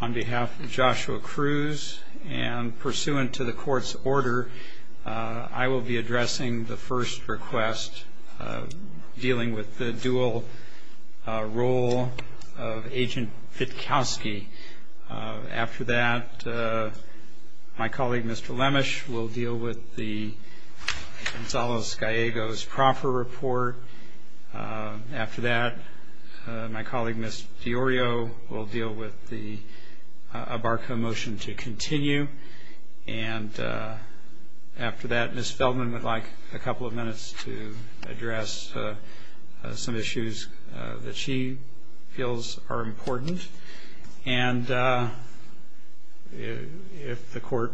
on behalf of Joshua Cruz and pursuant to the court's order, I will be addressing the first request dealing with the dual role of Agent Pitkowski. After that, my colleague Mr. Lemesh will deal with the Gonzalo Gallego's proper report. After that, my colleague Ms. Fiorio will deal with the Abarco motion to continue. And after that, Ms. Feldman would like a couple of minutes to address some issues that she feels are important. And if the court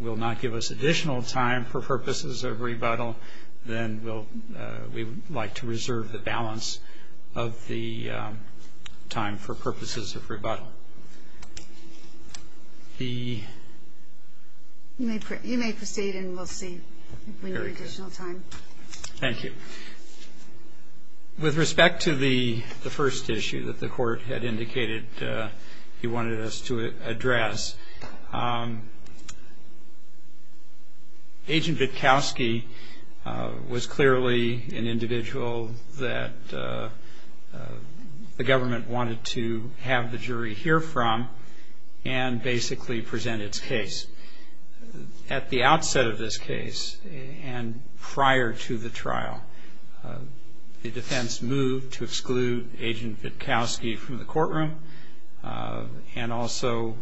will not give us additional time for purposes of rebuttal, then we would like to reserve the balance of the time for purposes of rebuttal. You may proceed and we'll see if we need additional time. Thank you. With respect to the first issue that the court had indicated he wanted us to address, Agent Pitkowski was clearly an individual that the government wanted to have the jury hear from and basically present its case. At the outset of this case and prior to the trial, the defense moved to exclude Agent Pitkowski from the courtroom and also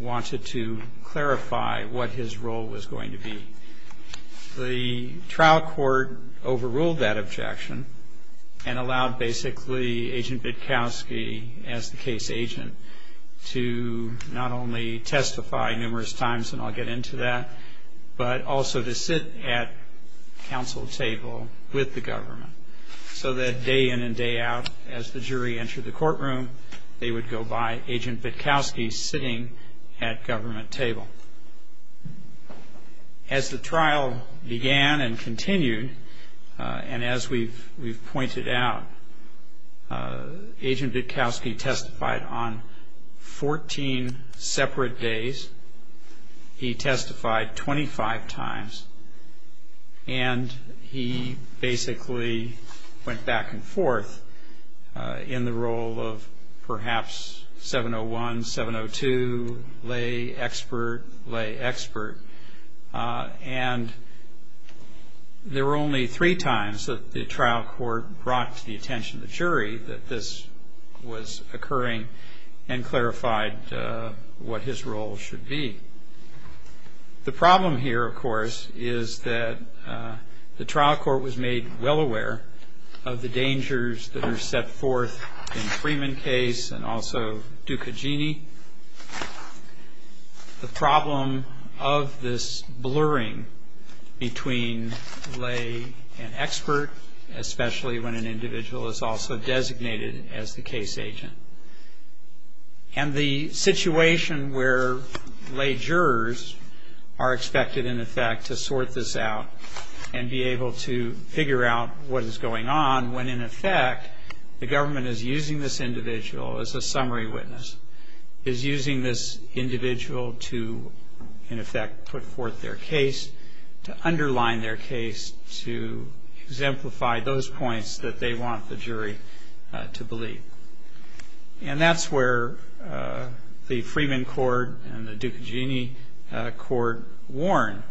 wanted to clarify what his role was going to be. The trial court overruled that objection and allowed basically Agent Pitkowski, as the case agent, to not only testify numerous times, and I'll get into that, but also to sit at counsel table with the government. So that day in and day out, as the jury entered the courtroom, they would go by Agent Pitkowski sitting at government table. As the trial began and continued, and as we've pointed out, Agent Pitkowski testified on 14 separate days. He testified 25 times, and he basically went back and forth in the role of perhaps 701, 702, lay expert, lay expert. And there were only three times that the trial court brought to the attention of the jury that this was occurring and clarified what his role should be. The problem here, of course, is that the trial court was made well aware of the dangers that are set forth in the Freeman case and also Dukagini, the problem of this blurring between lay and expert, especially when an individual is also designated as the case agent. And the situation where lay jurors are expected, in effect, to sort this out and be able to figure out what is going on when, in effect, the government is using this individual as a summary witness, is using this individual to, in effect, put forth their case, to underline their case, to exemplify those points that they want the jury to believe. And that's where the Freeman court and the Dukagini court warn.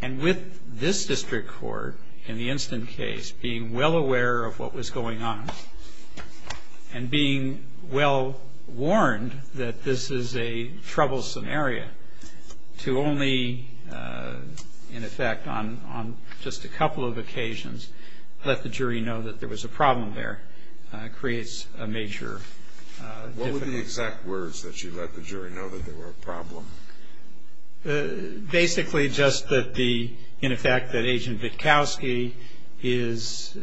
And with this district court, in the instant case, being well aware of what was going on and being well warned that this is a troublesome area to only, in effect, on just a couple of occasions, let the jury know that there was a problem there creates a major difficulty. What were the exact words that you let the jury know that there were a problem? Basically, just that the, in effect, that Agent Vitkowski is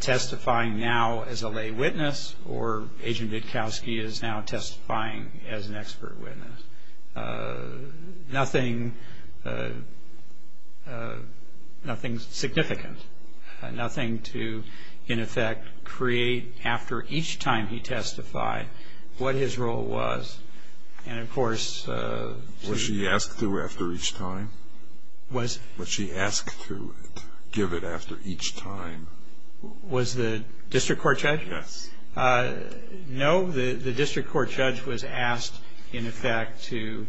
testifying now as a lay witness or Agent Vitkowski is now testifying as an expert witness. Nothing significant. Nothing to, in effect, create after each time he testified what his role was. And, of course... Was he asked to after each time? Was he asked to give it after each time? Was the district court judge? Yes. No. The district court judge was asked, in effect, to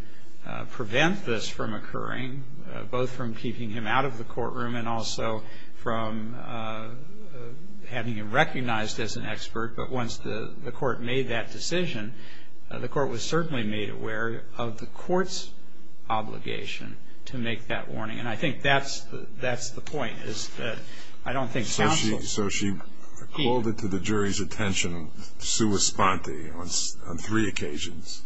prevent this from occurring, both from keeping him out of the courtroom and also from having him recognized as an expert. But once the court made that decision, the court was certainly made aware of the court's obligation to make that warning. And I think that's the point, is that I don't think... So she called it to the jury's attention, sua sponte, on three occasions.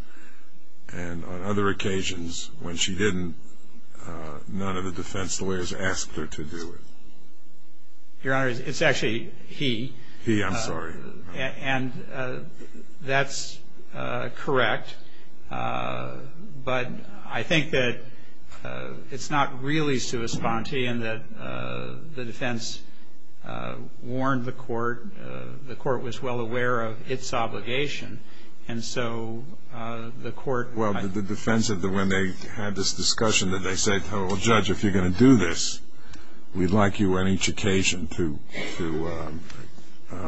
And on other occasions, when she didn't, none of the defense lawyers asked her to do it. Your Honor, it's actually he... He, I'm sorry. And that's correct. But I think that it's not really sua sponte in that the defense warned the court. The court was well aware of its obligation. And so the court... Well, the defense, when they had this discussion, that they said, Well, Judge, if you're going to do this, we'd like you on each occasion to,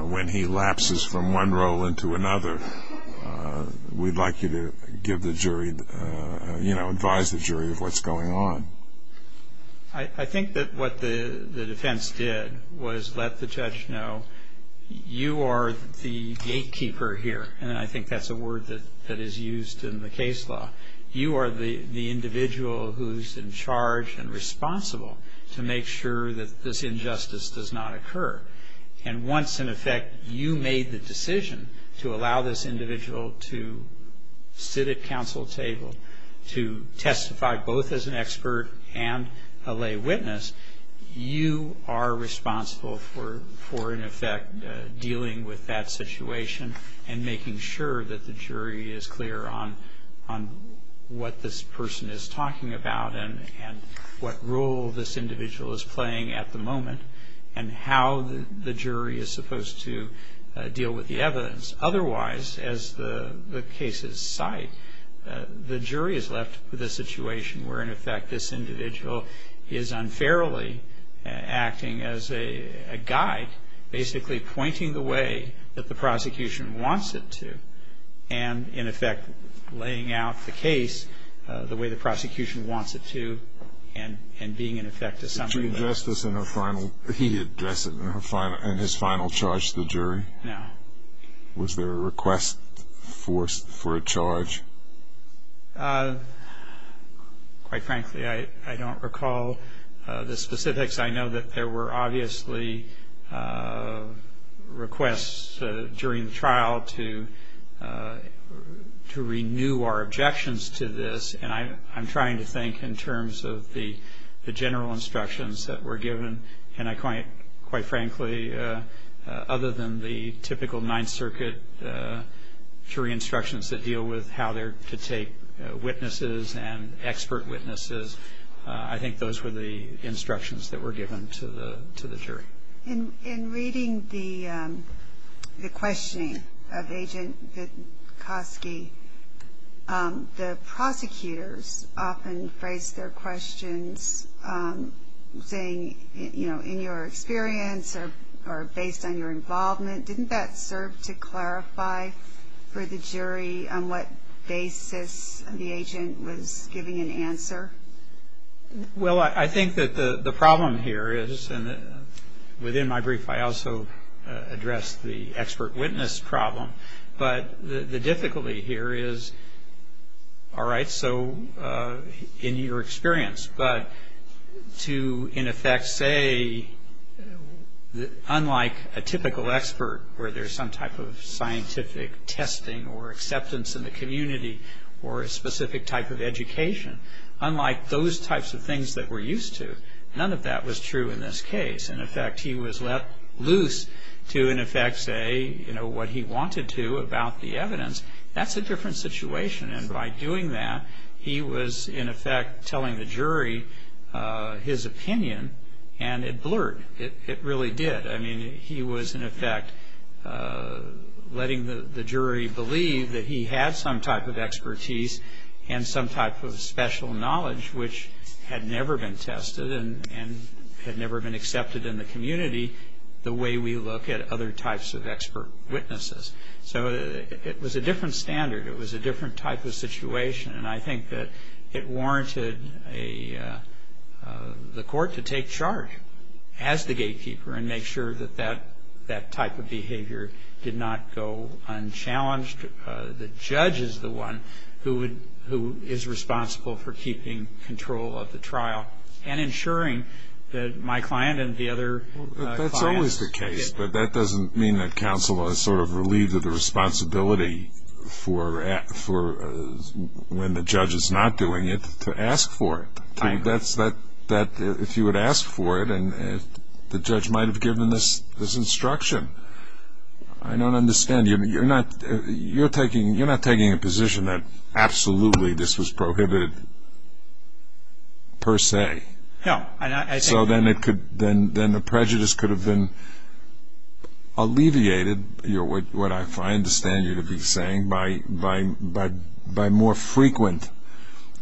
when he lapses from one role into another, we'd like you to give the jury, you know, advise the jury of what's going on. I think that what the defense did was let the judge know, you are the gatekeeper here. And I think that's a word that is used in the case law. You are the individual who's in charge and responsible to make sure that this injustice does not occur. And once, in effect, you made the decision to allow this individual to sit at counsel's table, to testify both as an expert and a lay witness, you are responsible for, in effect, dealing with that situation and making sure that the jury is clear on what this person is talking about and what role this individual is playing at the moment and how the jury is supposed to deal with the evidence. Otherwise, as the case is cited, the jury is left with a situation where, in effect, this individual is unfairly acting as a guide, basically pointing the way that the prosecution wants it to, and, in effect, laying out the case the way the prosecution wants it to and being, in effect, a subject. Did you address this in his final charge to the jury? No. Was there a request forced for a charge? Quite frankly, I don't recall the specifics. I know that there were obviously requests during the trial to renew our objections to this, and I'm trying to think in terms of the general instructions that were given, and quite frankly, other than the typical Ninth Circuit jury instructions that deal with how to take witnesses and expert witnesses, I think those were the instructions that were given to the jury. In reading the questioning of Agent Vitkovsky, the prosecutors often phrased their questions saying, you know, in your experience or based on your involvement, didn't that serve to clarify for the jury on what basis the agent was giving an answer? Well, I think that the problem here is, and within my brief, I also addressed the expert witness problem, but the difficulty here is, all right, so in your experience, but to, in effect, say, unlike a typical expert where there's some type of scientific testing or acceptance in the community or a specific type of education, unlike those types of things that we're used to, none of that was true in this case. In effect, he was let loose to, in effect, say, you know, what he wanted to about the evidence. That's a different situation, and by doing that, he was, in effect, telling the jury his opinion, and it blurred. It really did. I mean, he was, in effect, letting the jury believe that he had some type of expertise and some type of special knowledge which had never been tested and had never been accepted in the community the way we look at other types of expert witnesses. So it was a different standard. It was a different type of situation, and I think that it warranted the court to take charge as the gatekeeper and make sure that that type of behavior did not go unchallenged. The judge is the one who is responsible for keeping control of the trial and ensuring that my client and the other clients get... That's always the case, but that doesn't mean that counsel is sort of relieved of the responsibility for, when the judge is not doing it, to ask for it. If you had asked for it, the judge might have given this instruction. I don't understand. You're not taking the position that absolutely this was prohibited per se. No. So then the prejudice could have been alleviated, what I understand you to be saying, by more frequent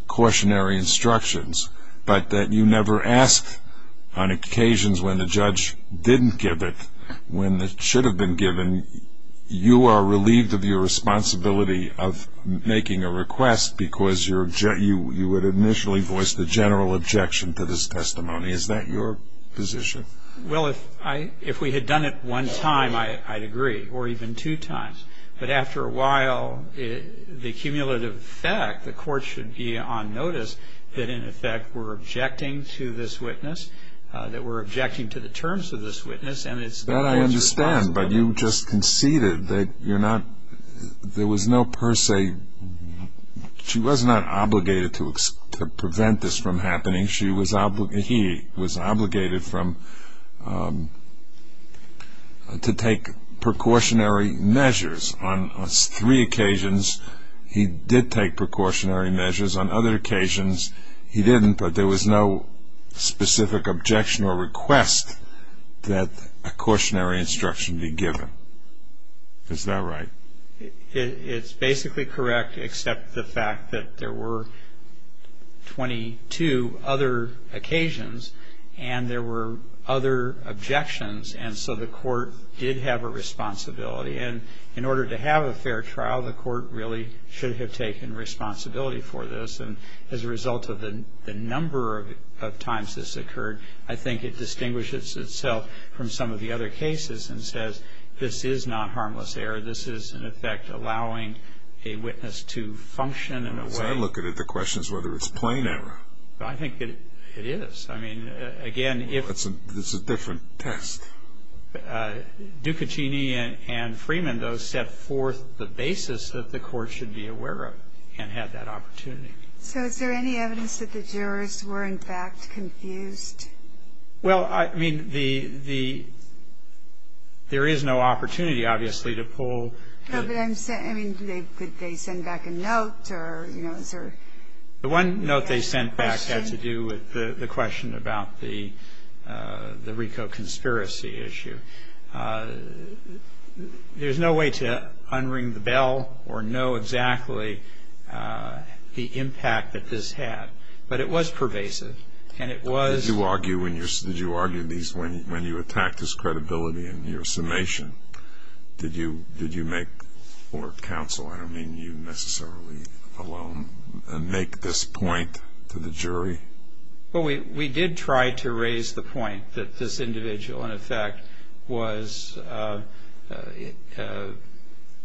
cautionary instructions, but that you never asked on occasions when the judge didn't give it, when it should have been given. You are relieved of your responsibility of making a request because you would initially voice the general objection to this testimony. Is that your position? Well, if we had done it one time, I'd agree, or even two times. But after a while, the cumulative effect, the court should be on notice that, in effect, we're objecting to this witness, that we're objecting to the terms of this witness. That I understand, but you just conceded that there was no per se... She was not obligated to prevent this from happening. He was obligated to take precautionary measures on three occasions. He did take precautionary measures on other occasions. He didn't, but there was no specific objection or request that a cautionary instruction be given. Is that right? It's basically correct, except the fact that there were 22 other occasions, and there were other objections, and so the court did have a responsibility. And in order to have a fair trial, the court really should have taken responsibility for this. And as a result of the number of times this occurred, I think it distinguishes itself from some of the other cases and says, this is not harmless error, this is, in effect, allowing a witness to function in a way... I'm looking at the questions whether it's plain error. I think that it is. I mean, again, if... It's a different test. Ducatini and Freeman, though, set forth the basis that the court should be aware of and had that opportunity. So is there any evidence that the jurors were, in fact, confused? Well, I mean, the... There is no opportunity, obviously, to pull... No, but I'm saying, I mean, could they send back a note or, you know, sort of... The one note they sent back had to do with the question about the RICO conspiracy issue. There's no way to unring the bell or know exactly the impact that this had, but it was pervasive, and it was... Did you argue these when you attacked his credibility in your summation? Did you make, for counsel, I don't mean you necessarily alone, make this point to the jury? Well, we did try to raise the point that this individual, in effect, was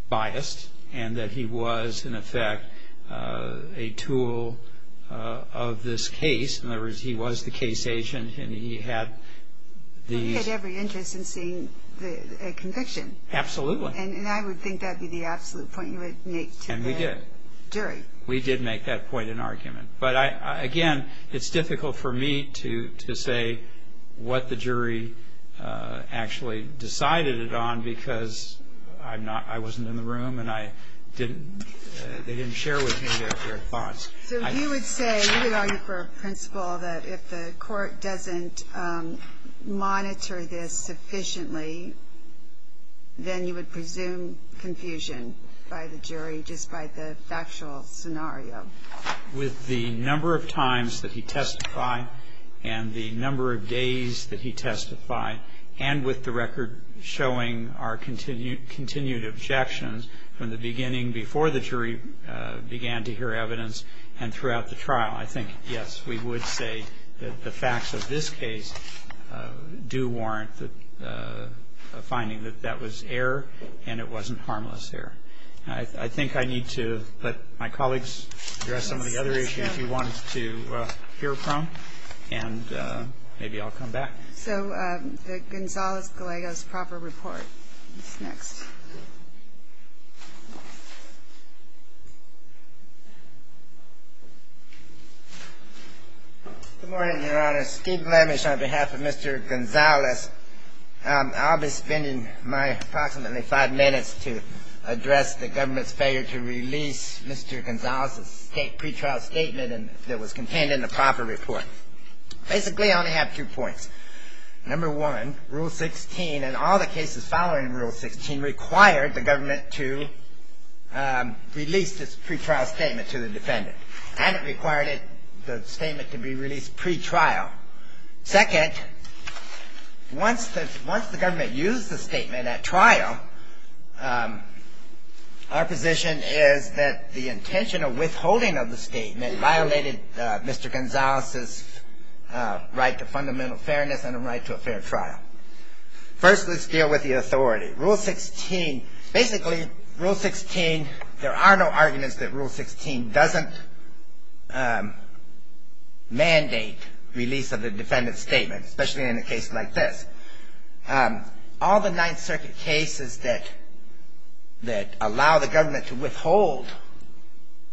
biased and that he was, in effect, a tool of this case. In other words, he was the case agent and he had these... He had every interest in seeing a conviction. Absolutely. And I would think that would be the absolute point you would make to the jury. And we did. We did make that point in argument. But, again, it's difficult for me to say what the jury actually decided it on because I'm not... I wasn't in the room and I didn't... They didn't share with me their thoughts. So you would say, you would argue for a principle that if the court doesn't monitor this sufficiently, then you would presume confusion by the jury just by the factual scenario? With the number of times that he testified and the number of days that he testified and with the record showing our continued objections from the beginning, before the jury began to hear evidence and throughout the trial. I think, yes, we would say that the facts of this case do warrant a finding that that was error and it wasn't harmless error. I think I need to let my colleagues address some of the other issues you wanted to hear from, and maybe I'll come back. So the Gonzales-Galegos proper report. Next. Good morning, Your Honor. Steve Glamish on behalf of Mr. Gonzales. I'll be spending my approximately five minutes to address the government's failure to release Mr. Gonzales' pretrial statement that was contained in the proper report. Basically, I only have two points. Number one, Rule 16, and all the cases following Rule 16, required the government to release this pretrial statement to the defendant, and it required the statement to be released pretrial. Second, once the government used the statement at trial, our position is that the intention of withholding of the statement violated Mr. Gonzales' right to fundamental fairness and the right to a fair trial. First, let's deal with the authority. Rule 16, basically, Rule 16, there are no arguments that Rule 16 doesn't mandate release of the defendant's statement, especially in a case like this. All the Ninth Circuit cases that allow the government to withhold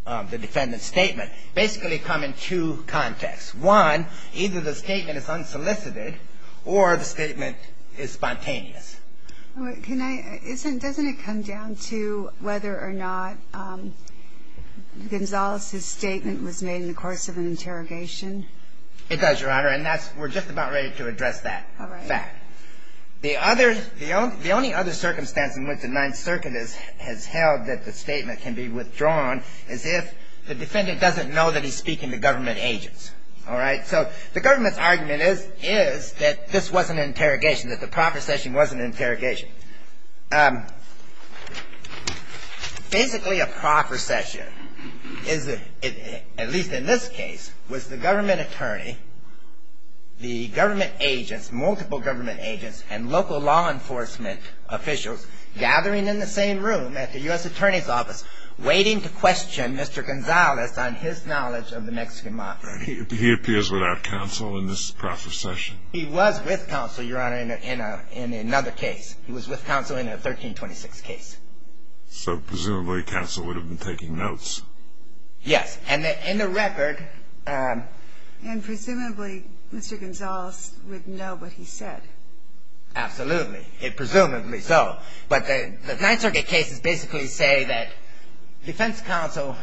the defendant's statement basically come in two contexts. One, either the statement is unsolicited or the statement is spontaneous. Doesn't it come down to whether or not Gonzales' statement was made in the course of an interrogation? It does, Your Honor. It does, Your Honor, and we're just about ready to address that. The only other circumstance in which the Ninth Circuit has held that the statement can be withdrawn is if the defendant doesn't know that he's speaking to government agents. So, the government's argument is that this wasn't an interrogation, that the proper session wasn't an interrogation. Basically, a proper session, at least in this case, was the government attorney, the government agents, multiple government agents, and local law enforcement officials gathering in the same room at the U.S. Attorney's Office waiting to question Mr. Gonzales on his knowledge of the Mexican Mafia. He appears without counsel in this proper session? He was with counsel, Your Honor, in another case. He was with counsel in a 1326 case. So, presumably, counsel would have been taking notes? Yes, and in the record. And presumably, Mr. Gonzales would know what he said? Absolutely. Presumably so. But the Ninth Circuit cases basically say that defense counsel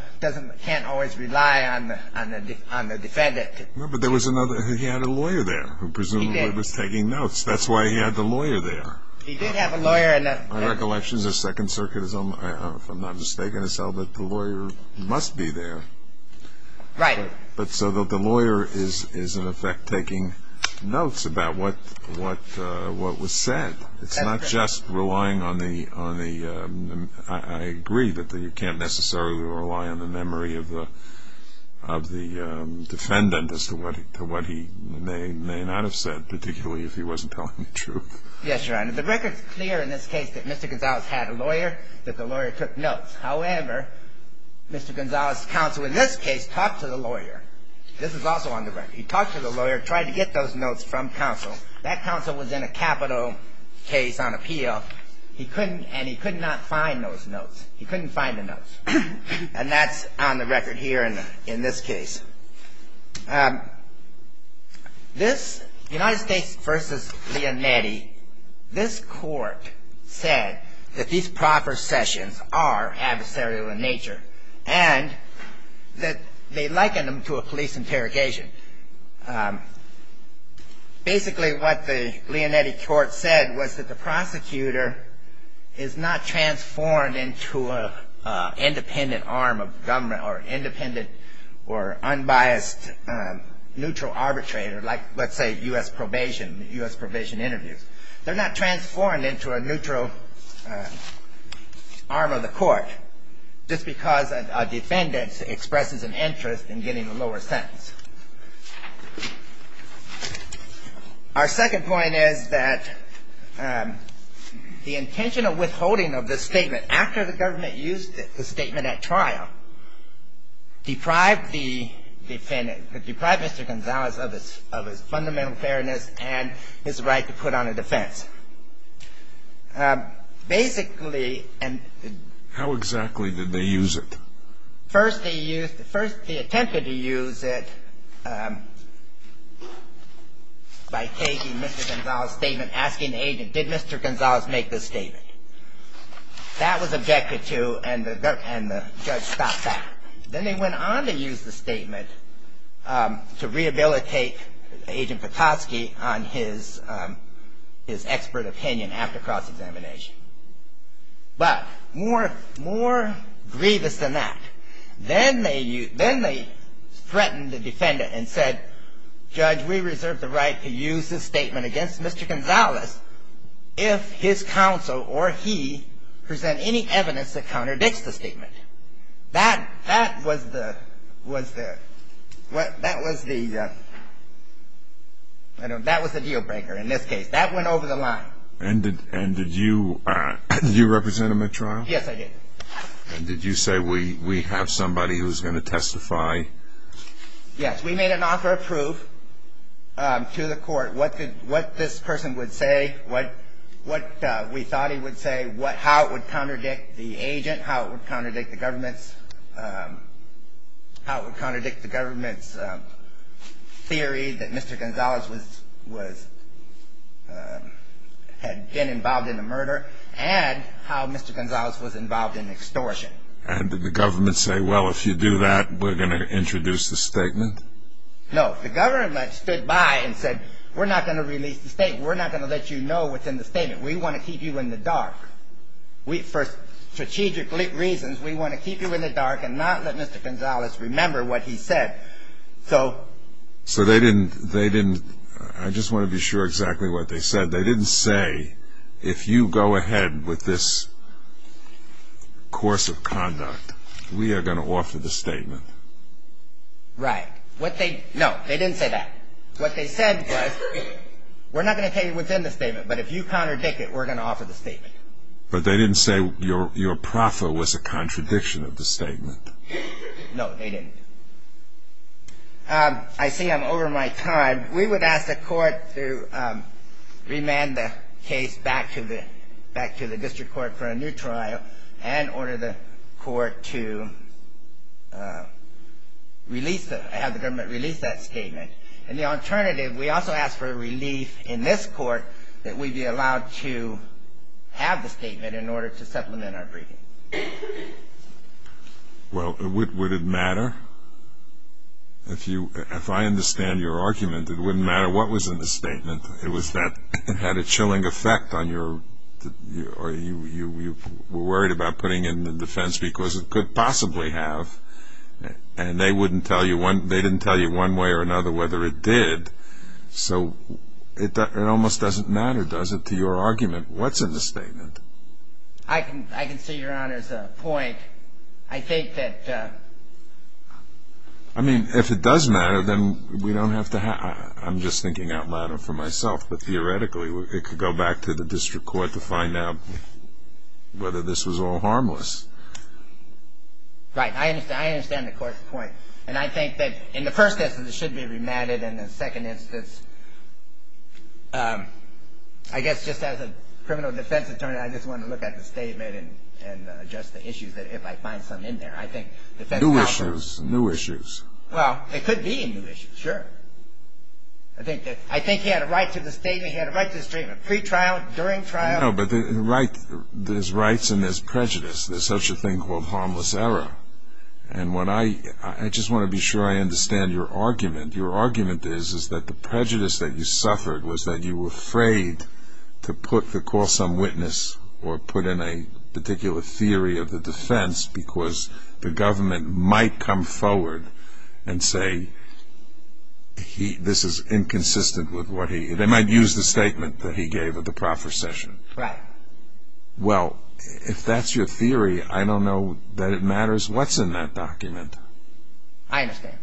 can't always rely on the defendant. No, but there was another. He had a lawyer there who presumably was taking notes. That's why he had the lawyer there. He did have a lawyer. In recollection, the Second Circuit, if I'm not mistaken, has held that the lawyer must be there. Right. But so the lawyer is, in effect, taking notes about what was said. It's not just relying on the, I agree that you can't necessarily rely on the memory of the defendant as to what he may or may not have said, particularly if he wasn't telling the truth. Yes, Your Honor. The record is clear in this case that Mr. Gonzales had a lawyer, that the lawyer took notes. However, Mr. Gonzales' counsel in this case talked to the lawyer. This is also on the record. He talked to the lawyer, tried to get those notes from counsel. That counsel was in a capital case on appeal, and he could not find those notes. He couldn't find the notes. And that's on the record here in this case. This, United States v. Leonetti, this court said that these proper sessions are adversarial in nature and that they liken them to a police interrogation. And basically what the Leonetti court said was that the prosecutor is not transformed into an independent arm of government or independent or unbiased neutral arbitrator like, let's say, U.S. probation, U.S. probation interviews. They're not transformed into a neutral arm of the court just because a defendant expresses an interest in getting a lower sentence. Our second point is that the intention of withholding of this statement after the government used it, the statement at trial, deprived the defendant, deprived Mr. Gonzales of his fundamental fairness and his right to put on a defense. Basically, and... How exactly did they use it? First they used, first they attempted to use it by taking Mr. Gonzales' statement, asking the agent, did Mr. Gonzales make this statement? That was objected to and the judge stopped that. Then they went on to use the statement to rehabilitate Agent Petoskey on his expert opinion after cross-examination. But more grievous than that, then they threatened the defendant and said, Judge, we reserve the right to use this statement against Mr. Gonzales if his counsel or he present any evidence that contradicts the statement. That was the deal breaker in this case. That went over the line. And did you represent him at trial? Yes, I did. And did you say, we have somebody who's going to testify? Yes, we made an offer of proof to the court what this person would say, what we thought he would say, how it would contradict the agent, how it would contradict the government's theory that Mr. Gonzales had been involved in the murder, and how Mr. Gonzales was involved in extortion. And did the government say, well, if you do that, we're going to introduce the statement? No. The government stood by and said, we're not going to release the statement. We're not going to let you know what's in the statement. We want to keep you in the dark. For strategic reasons, we want to keep you in the dark and not let Mr. Gonzales remember what he said. So they didn't, they didn't, I just want to be sure exactly what they said. They didn't say, if you go ahead with this course of conduct, we are going to offer the statement. Right. What they, no, they didn't say that. What they said was, we're not going to tell you what's in the statement, but if you contradict it, we're going to offer the statement. But they didn't say your proffer was a contradiction of the statement. No, they didn't. I see I'm over my time. We would ask the court to remand the case back to the district court for a new trial and order the court to release it, have the government release that statement. And the alternative, we also ask for a release in this court that we be allowed to have the statement in order to supplement our agreement. Well, would it matter? If you, if I understand your argument, it wouldn't matter what was in the statement. It was that it had a chilling effect on your, or you were worried about putting it in the defense because it could possibly have. And they wouldn't tell you one, they didn't tell you one way or another whether it did. So it almost doesn't matter, does it, to your argument, what's in the statement? I can, I can see your Honor's point. I think that. I mean, if it doesn't matter, then we don't have to have, I'm just thinking out loud for myself. But theoretically, it could go back to the district court to find out whether this was all harmless. Right. I understand, I understand the court's point. And I think that in the first instance, it should be remanded, and in the second instance, I guess just as a criminal defense attorney, I just wanted to look at the statement and address the issues that if I find something in there, I think defense counsel. New issues, new issues. Well, it could be a new issue, sure. I think that, I think he had a right to the statement, he had a right to the statement pre-trial, during trial. No, but there's rights and there's prejudice. There's such a thing called harmless error. And when I, I just want to be sure I understand your argument. Your argument is, is that the prejudice that you suffered was that you were afraid to put, to call some witness or put in a particular theory of the defense because the government might come forward and say this is inconsistent with what he, they might use the statement that he gave at the procession. Right. Well, if that's your theory, I don't know that it matters what's in that document. I understand.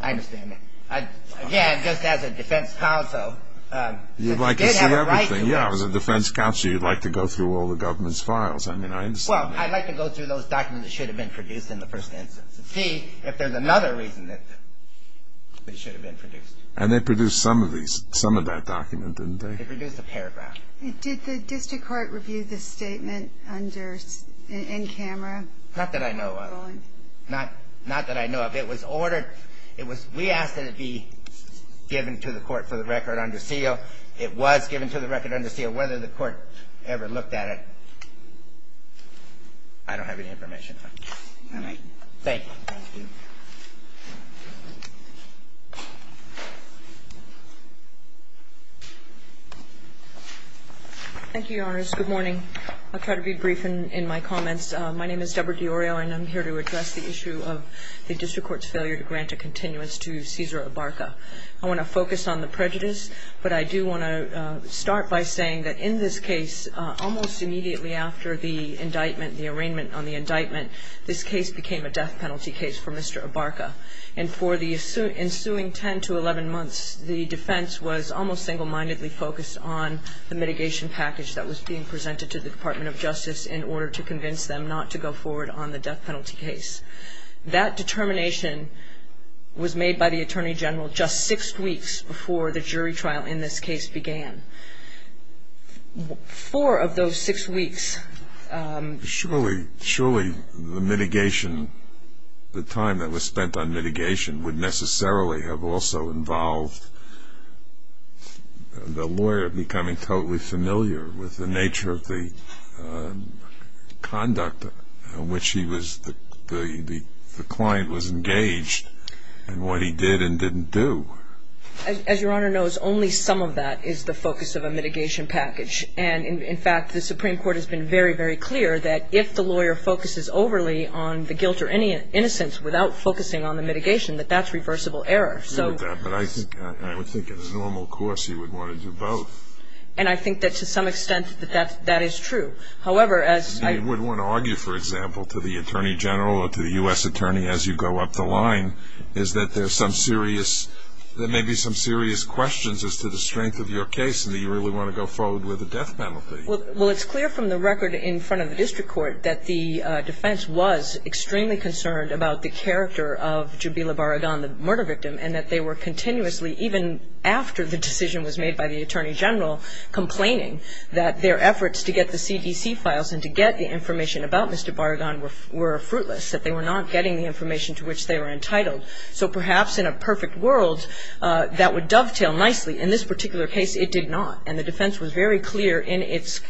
I understand. Again, just as a defense counsel. You'd like to see everything. Yeah, as a defense counsel, you'd like to go through all the government's files. I mean, I understand that. Well, I'd like to go through those documents that should have been produced in the first instance to see if there's another reason that they should have been produced. And they produced some of these, some of that document, didn't they? They produced a paragraph. Did the district court review the statement under, in camera? Not that I know of. Not that I know of. It was ordered, it was, we asked it to be given to the court for the record under seal. It was given to the record under seal. Whether the court ever looked at it, I don't have any information on it. All right. Thank you. Thank you, Your Honors. Good morning. I'll try to be brief in my comments. My name is Deborah DiOrio, and I'm here to address the issue of the district court's failure to grant a continuance to Cesar Ibarca. I want to focus on the prejudice, but I do want to start by saying that in this case, almost immediately after the indictment, the arraignment on the indictment, this case became a death penalty case for Mr. Ibarca. And for the ensuing 10 to 11 months, the defense was almost single-mindedly focused on the mitigation package that was being presented to the Department of Justice in order to convince them not to go forward on the death penalty case. That determination was made by the Attorney General just six weeks before the jury trial in this case began. Four of those six weeks. Surely the mitigation, the time that was spent on mitigation, would necessarily have also involved the lawyer becoming totally familiar with the nature of the conduct in which he was, the client was engaged in what he did and didn't do. As Your Honor knows, only some of that is the focus of a mitigation package. And, in fact, the Supreme Court has been very, very clear that if the lawyer focuses overly on the guilt or any innocence without focusing on the mitigation, that that's reversible error. I know that, but I would think in a normal course he would want to do both. And I think that to some extent that that is true. However, as I... You wouldn't want to argue, for example, to the Attorney General or to the U.S. Attorney as you go up the line, is that there's some serious... there may be some serious questions as to the strength of your case and that you really want to go forward with a death penalty. Well, it's clear from the record in front of the District Court that the defense was extremely concerned about the character of Jubila Barragan, the murder victim, and that they were continuously, even after the decision was made by the Attorney General, complaining that their efforts to get the CDC files and to get the information about Mr. Barragan were fruitless, that they were not getting the information to which they were entitled. So perhaps in a perfect world, that would dovetail nicely. In this particular case, it did not. And the defense was very clear in its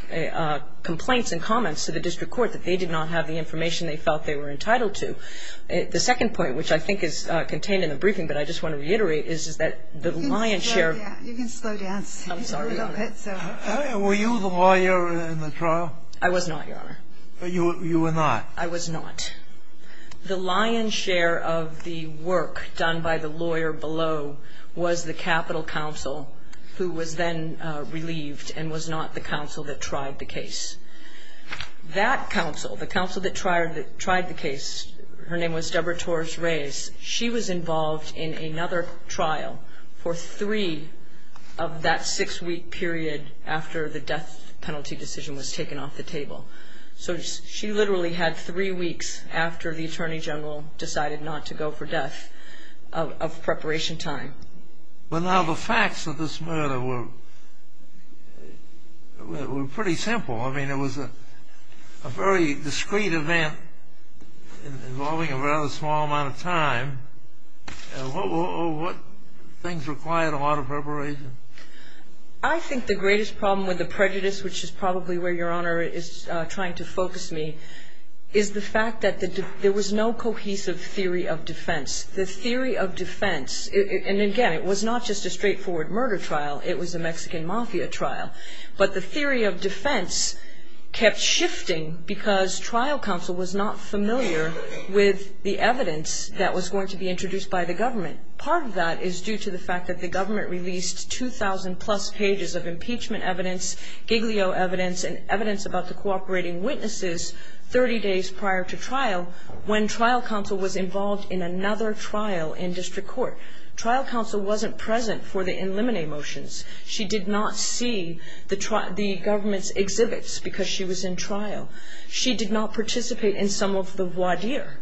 complaints and comments to the District Court that they did not have the information they felt they were entitled to. The second point, which I think is contained in the briefing, but I just want to reiterate, is that the lion's share... You can slow down. I'm sorry about that. Were you the lawyer in the trial? I was not, Your Honor. You were not? I was not. The lion's share of the work done by the lawyer below was the Capitol Counsel, who was then relieved and was not the counsel that tried the case. That counsel, the counsel that tried the case, her name was Deborah Torres-Reyes, she was involved in another trial for three of that six-week period after the death penalty decision was taken off the table. So she literally had three weeks after the Attorney General decided not to go for death of preparation time. But now the facts of this murder were pretty simple. I mean, it was a very discreet event involving a fairly small amount of time. What things required a lot of preparation? I think the greatest problem with the prejudice, which is probably where Your Honor is trying to focus me, is the fact that there was no cohesive theory of defense. The theory of defense, and again, it was not just a straightforward murder trial. It was a Mexican mafia trial. But the theory of defense kept shifting because trial counsel was not familiar with the evidence that was going to be introduced by the government. And part of that is due to the fact that the government released 2,000-plus pages of impeachment evidence, giglio evidence, and evidence about the cooperating witnesses 30 days prior to trial when trial counsel was involved in another trial in district court. Trial counsel wasn't present for the eliminate motions. She did not see the government's exhibits because she was in trial. She did not participate in some of the voir dire.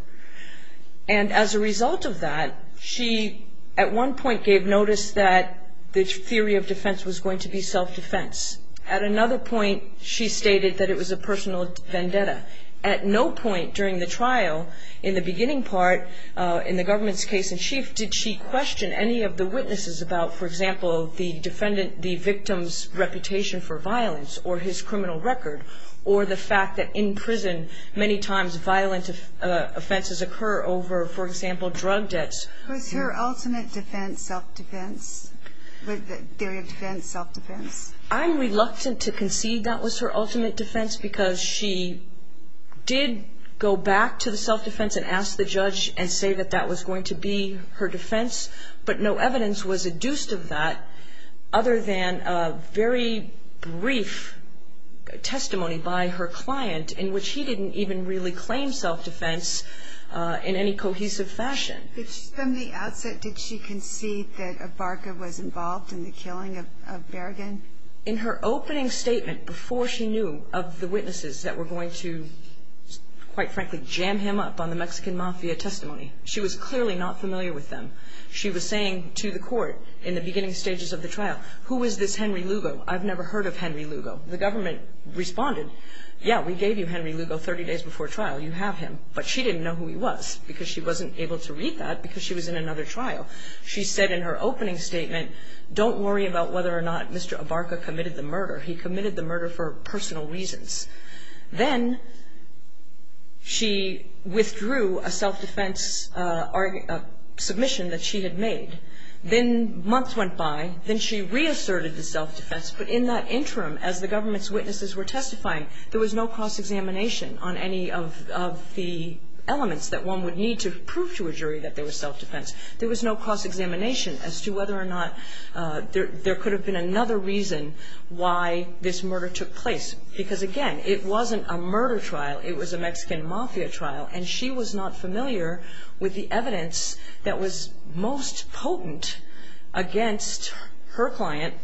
And as a result of that, she at one point gave notice that the theory of defense was going to be self-defense. At another point, she stated that it was a personal vendetta. At no point during the trial, in the beginning part, in the government's case in chief, did she question any of the witnesses about, for example, the defendant, the victim's reputation for violence or his criminal record or the fact that in prison many times violent offenses occur over, for example, drug debts. Was her ultimate defense self-defense? Was the theory of defense self-defense? I'm reluctant to concede that was her ultimate defense because she did go back to the self-defense and ask the judge and say that that was going to be her defense. But no evidence was adduced of that other than a very brief testimony by her client in which she didn't even really claim self-defense in any cohesive fashion. From the outset, did she concede that Abarca was involved in the killing of Berrigan? In her opening statement before she knew of the witnesses that were going to, quite frankly, jam him up on the Mexican mafia testimony, she was clearly not familiar with them. She was saying to the court in the beginning stages of the trial, who is this Henry Lugo? I've never heard of Henry Lugo. The government responded, yeah, we gave you Henry Lugo 30 days before trial. You have him. But she didn't know who he was because she wasn't able to read that because she was in another trial. She said in her opening statement, don't worry about whether or not Mr. Abarca committed the murder. He committed the murder for personal reasons. Then she withdrew a self-defense submission that she had made. Then months went by. Then she reasserted the self-defense. But in that interim, as the government's witnesses were testifying, there was no cross-examination on any of the elements that one would need to prove to a jury that there was self-defense. There was no cross-examination as to whether or not there could have been another reason why this murder took place. Because, again, it wasn't a murder trial. It was a Mexican mafia trial. And she was not familiar with the evidence that was most potent against her client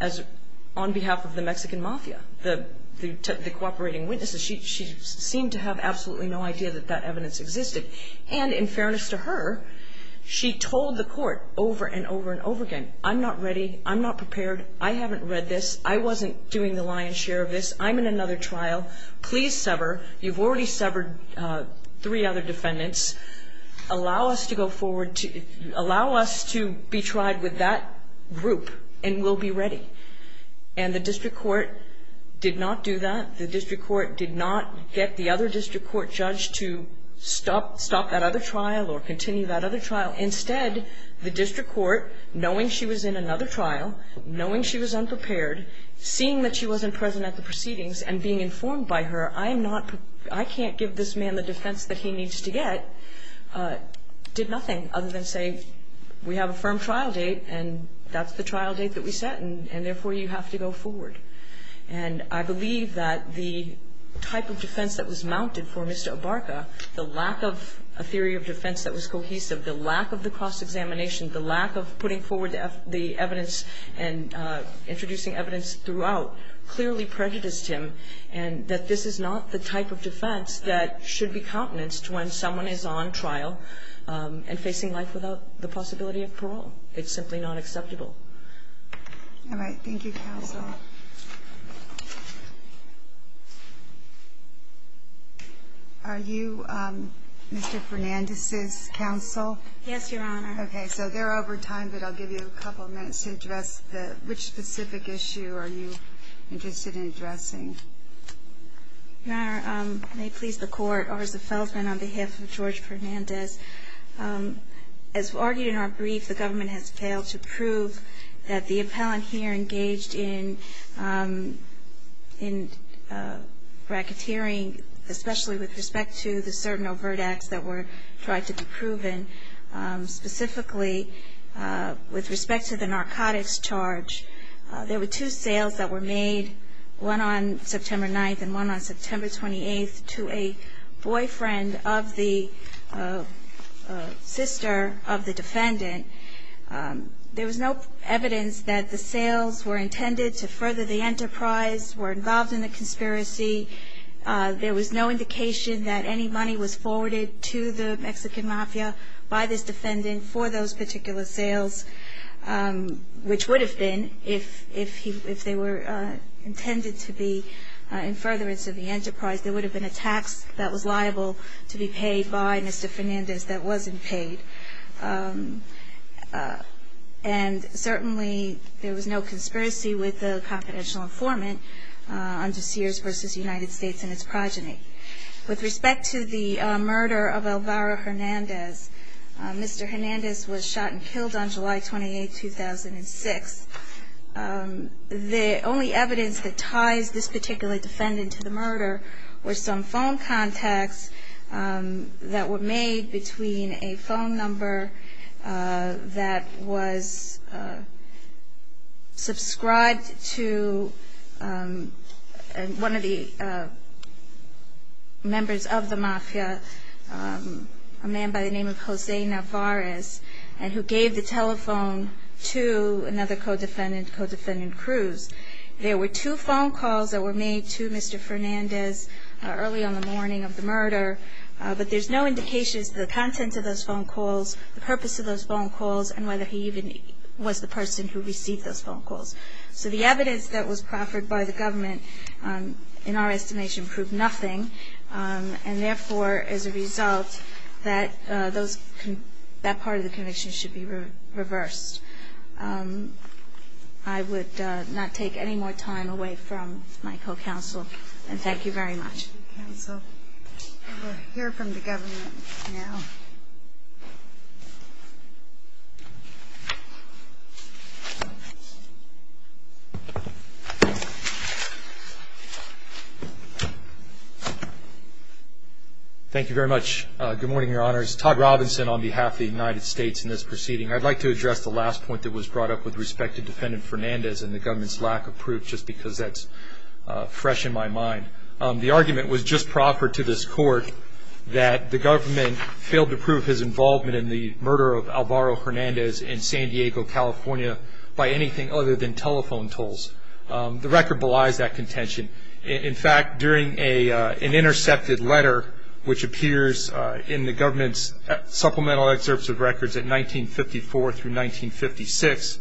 on behalf of the Mexican mafia, the cooperating witnesses. She seemed to have absolutely no idea that that evidence existed. And in fairness to her, she told the court over and over and over again, I'm not ready. I'm not prepared. I haven't read this. I wasn't doing the lion's share of this. I'm in another trial. Please sever. You've already severed three other defendants. Allow us to go forward. Allow us to be tried with that group, and we'll be ready. And the district court did not do that. The district court did not get the other district court judge to stop that other trial or continue that other trial. Instead, the district court, knowing she was in another trial, knowing she was unprepared, seeing that she wasn't present at the proceedings, and being informed by her, I can't give this man the defense that he needs to get, did nothing other than say, we have a firm trial date, and that's the trial date that we set, and therefore you have to go forward. And I believe that the type of defense that was mounted for Mr. Abarca, the lack of a theory of defense that was cohesive, the lack of the cross-examination, the lack of putting forward the evidence and introducing evidence throughout clearly prejudiced him, and that this is not the type of defense that should be countenanced when someone is on trial and facing life without the possibility of parole. It's simply not acceptable. All right. Thank you, counsel. Are you Mr. Fernandez's counsel? Yes, Your Honor. Okay. So they're over time, but I'll give you a couple of minutes to address which specific issue are you interested in addressing. Your Honor, may it please the Court, over the settlement on behalf of George Fernandez, as argued in our brief, the government has failed to prove that the appellant here engaged in racketeering, especially with respect to the certain overt acts that were tried to be proven, specifically with respect to the narcotics charge. There were two sales that were made, one on September 9th and one on September 28th, to a boyfriend of the sister of the defendant. There was no evidence that the sales were intended to further the enterprise, were involved in the conspiracy. There was no indication that any money was forwarded to the Mexican Mafia by this defendant for those particular sales, which would have been, if they were intended to be in furtherance of the enterprise, there would have been a tax that was liable to be paid by Mr. Fernandez that wasn't paid. And certainly, there was no conspiracy with the confidential informant on DeSears v. United States and its progeny. With respect to the murder of Elvira Hernandez, Mr. Hernandez was shot and killed on July 28th, 2006. The only evidence that ties this particular defendant to the murder were some phone contacts that were made between a phone number that was subscribed to one of the members of the Mafia, a man by the name of Jose Navarez, and who gave the telephone to another co-defendant, Co-Defendant Cruz. There were two phone calls that were made to Mr. Fernandez early on the morning of the murder, but there's no indication as to the content of those phone calls, the purpose of those phone calls, and whether he even was the person who received those phone calls. So the evidence that was proffered by the government, in our estimation, proved nothing, and therefore, as a result, that part of the conviction should be reversed. I would not take any more time away from my co-counsel, and thank you very much. Thank you very much. Good morning, Your Honors. Todd Robinson on behalf of the United States in this proceeding. I'd like to address the last point that was brought up with respect to Defendant Fernandez and the government's lack of proof, just because that's fresh in my mind. The argument was just proffered to this Court that the government failed to prove his involvement in the murder of Alvaro Fernandez in San Diego, California, by anything other than telephone tolls. The record belies that contention. In fact, during an intercepted letter, which appears in the government's supplemental excerpts of records at 1954 through 1956,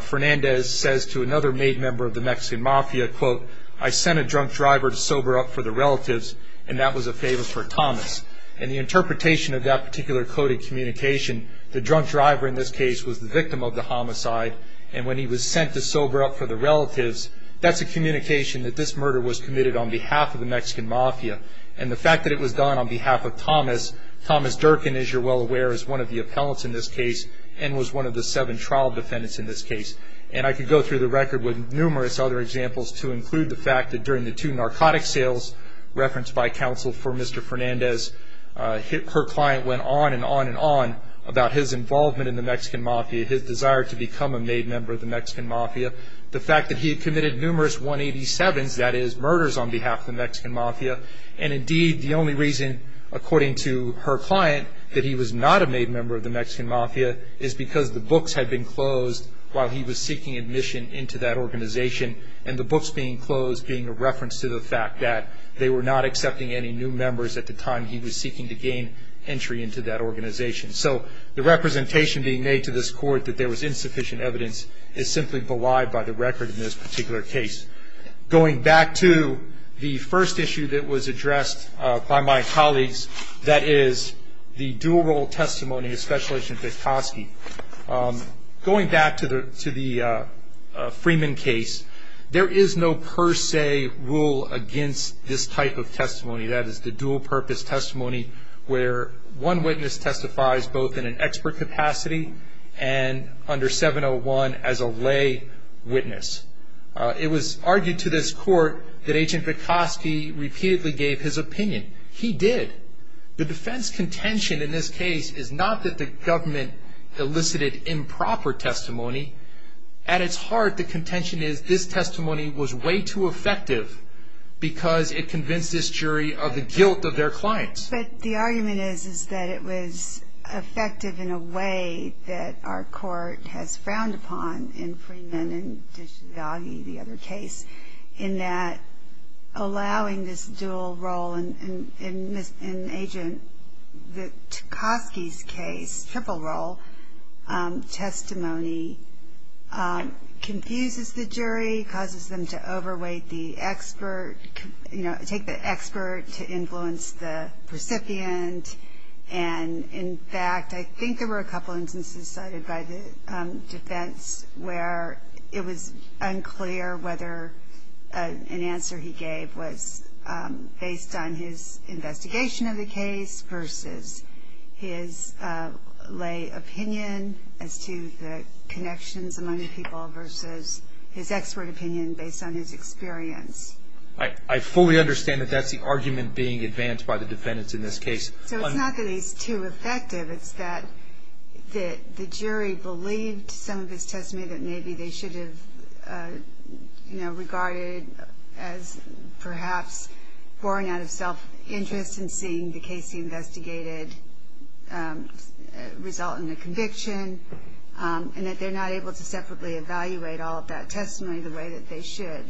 Fernandez says to another maid member of the Mexican Mafia, quote, I sent a drunk driver to sober up for the relatives, and that was a favor for Thomas. In the interpretation of that particular coded communication, the drunk driver in this case was the victim of the homicide, and when he was sent to sober up for the relatives, that's a communication that this murder was committed on behalf of the Mexican Mafia. And the fact that it was done on behalf of Thomas, Thomas Durkin, as you're well aware, is one of the appellants in this case and was one of the seven trial defendants in this case. And I could go through the record with numerous other examples to include the fact that during the two narcotic sales referenced by counsel for Mr. Fernandez, her client went on and on and on about his involvement in the Mexican Mafia, his desire to become a maid member of the Mexican Mafia, the fact that he had committed numerous 187s, that is, murders on behalf of the Mexican Mafia, and indeed the only reason, according to her client, that he was not a maid member of the Mexican Mafia is because the books had been closed while he was seeking admission into that organization, and the books being closed being a reference to the fact that they were not accepting any new members at the time he was seeking to gain entry into that organization. So the representation being made to this court that there was insufficient evidence is simply belied by the record in this particular case. Going back to the first issue that was addressed by my colleagues, that is, the dual role testimony, especially since it's Toschi, going back to the Freeman case, there is no per se rule against this type of testimony. That is, the dual purpose testimony where one witness testifies both in an expert capacity and under 701 as a lay witness. It was argued to this court that Agent Toschi repeatedly gave his opinion. He did. The defense contention in this case is not that the government elicited improper testimony. At its heart, the contention is this testimony was way too effective because it convinced this jury of the guilt of their claims. But the argument is that it was effective in a way that our court has frowned upon in Freeman and in the other case, in that allowing this dual role in Agent Toschi's case, triple role testimony, confuses the jury, causes them to overweight the expert, you know, take the expert to influence the recipient. And in fact, I think there were a couple instances cited by the defense where it was unclear whether an answer he gave was based on his investigation of the case versus his lay opinion as to the connections among the people versus his expert opinion based on his experience. I fully understand that that's the argument being advanced by the defendants in this case. So it's not that he's too effective. The other argument I have is that the jury believed some of his testimony that maybe they should have, you know, regarded as perhaps born out of self-interest in seeing the case he investigated result in a conviction and that they're not able to separately evaluate all of that testimony the way that they should.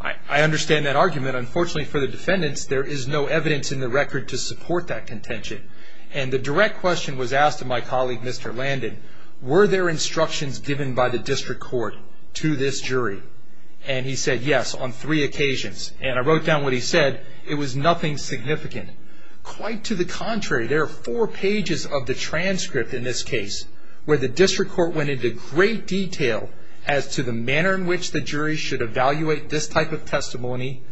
I understand that argument. But unfortunately for the defendants, there is no evidence in the record to support that contention. And the direct question was asked to my colleague, Mr. Landon, were there instructions given by the district court to this jury? And he said, yes, on three occasions. And I wrote down what he said. It was nothing significant. Quite to the contrary, there are four pages of the transcript in this case where the district court went into great detail as to the manner in which the jury should evaluate this type of testimony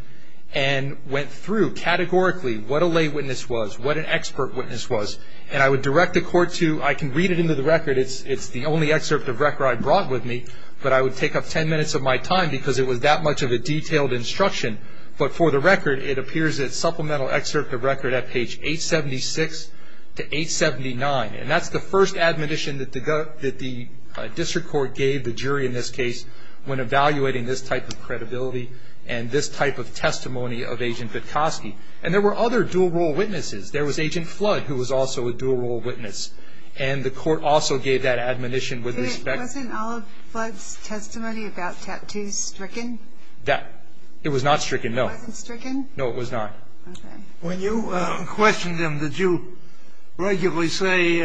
and went through categorically what a lay witness was, what an expert witness was. And I would direct the court to, I can read it into the record, it's the only excerpt of record I brought with me, but I would take up ten minutes of my time because it was that much of a detailed instruction. But for the record, it appears as supplemental excerpt of record at page 876 to 879. And that's the first admonition that the district court gave the jury in this case when evaluating this type of credibility and this type of testimony of Agent Petoskey. And there were other dual-role witnesses. There was Agent Flood who was also a dual-role witness. And the court also gave that admonition with respect to Wasn't Olive Flood's testimony about tattoos stricken? It was not stricken, no. It wasn't stricken? No, it was not. When you questioned him, did you regularly say,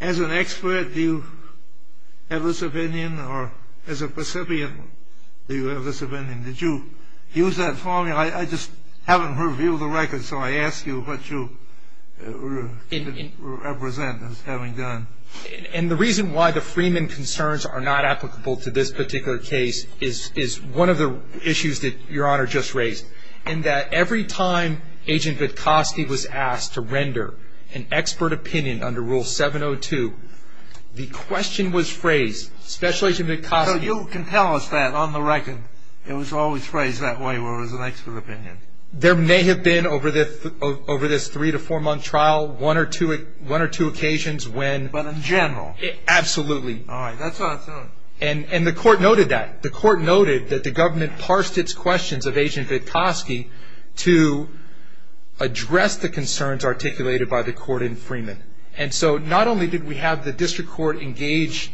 as an expert, do you have this opinion? Or as a recipient, do you have this opinion? Did you use that formula? I just haven't heard a view of the record, so I ask you what you represent as having done. And the reason why the Freeman concerns are not applicable to this particular case is one of the issues that Your Honor just raised, in that every time Agent Petoskey was asked to render an expert opinion under Rule 702, the question was phrased, Special Agent Vitcotti So you can tell us that on the record. It was always phrased that way where it was an expert opinion. There may have been, over this three- to four-month trial, one or two occasions when But in general? Absolutely. All right, that's awesome. And the court noted that. The court noted that the government parsed its questions of Agent Petoskey to address the concerns articulated by the court in Freeman. And so not only did we have the district court engaged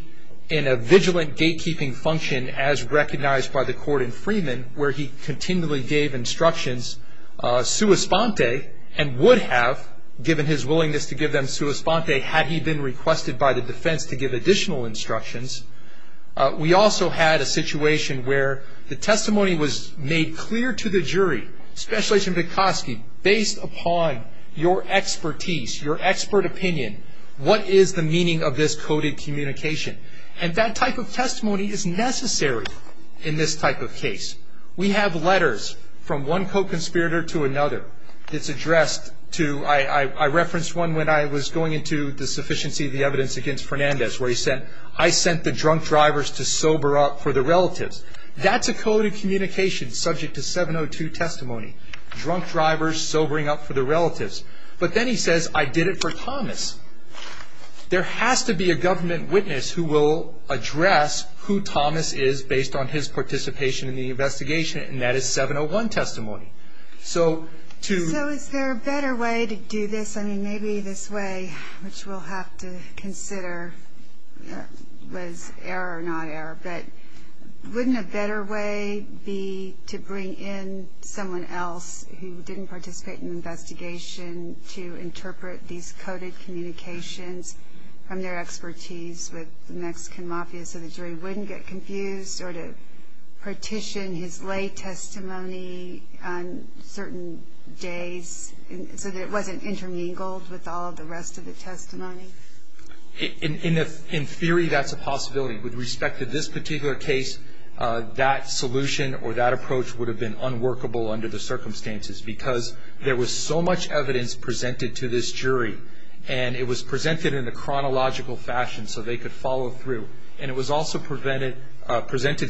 in a vigilant gatekeeping function, as recognized by the court in Freeman, where he continually gave instructions, sua sponte, and would have, given his willingness to give them sua sponte, had he been requested by the defense to give additional instructions. We also had a situation where the testimony was made clear to the jury, Special Agent Petoskey, based upon your expertise, your expert opinion, what is the meaning of this coded communication. And that type of testimony is necessary in this type of case. We have letters from one co-conspirator to another that's addressed to I referenced one when I was going into the sufficiency of the evidence against Fernandez, where he said, I sent the drunk drivers to sober up for the relatives. That's a coded communication subject to 702 testimony, drunk drivers sobering up for the relatives. But then he says, I did it for Thomas. There has to be a government witness who will address who Thomas is, based on his participation in the investigation, and that is 701 testimony. So is there a better way to do this? I mean, maybe this way, which we'll have to consider was error or not error, but wouldn't a better way be to bring in someone else who didn't participate in the investigation to interpret these coded communications from their expertise with the Mexican Mafia so the jury wouldn't get confused or to partition his lay testimony on certain days so that it wasn't intermingled with all the rest of the testimony? In theory, that's a possibility. With respect to this particular case, that solution or that approach would have been unworkable under the circumstances because there was so much evidence presented to this jury, and it was presented in the chronological fashion so they could follow through, and it was also presented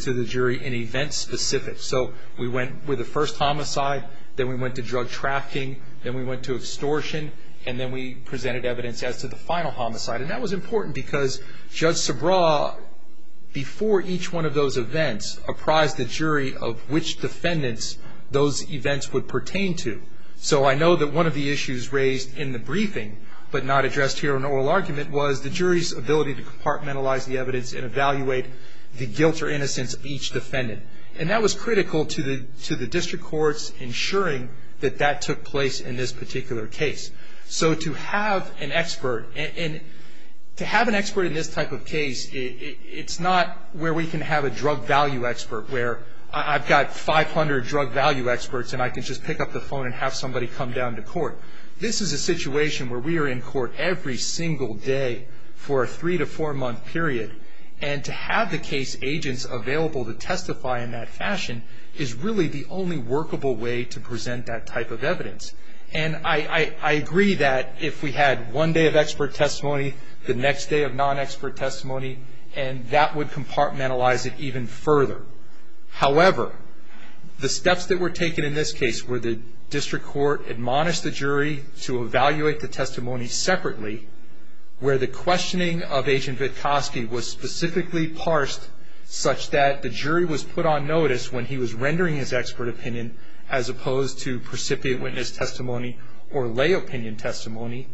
to the jury in event specifics. So we went with the first homicide, then we went to drug trafficking, then we went to extortion, and then we presented evidence after the final homicide. And that was important because Judge Sobraw, before each one of those events, apprised the jury of which defendants those events would pertain to. So I know that one of the issues raised in the briefing, but not addressed here in oral argument, was the jury's ability to compartmentalize the evidence and evaluate the guilt or innocence of each defendant. And that was critical to the district courts ensuring that that took place in this particular case. So to have an expert, and to have an expert in this type of case, it's not where we can have a drug value expert where I've got 500 drug value experts and I can just pick up the phone and have somebody come down to court. This is a situation where we are in court every single day for a three- to four-month period, and to have the case agents available to testify in that fashion is really the only workable way to present that type of evidence. And I agree that if we had one day of expert testimony, the next day of non-expert testimony, and that would compartmentalize it even further. However, the steps that were taken in this case were the district court admonished the jury to evaluate the testimony separately, where the questioning of Agent Vitkoski was specifically parsed such that the jury was put on notice when he was rendering his expert opinion as opposed to precipitant witness testimony or lay opinion testimony.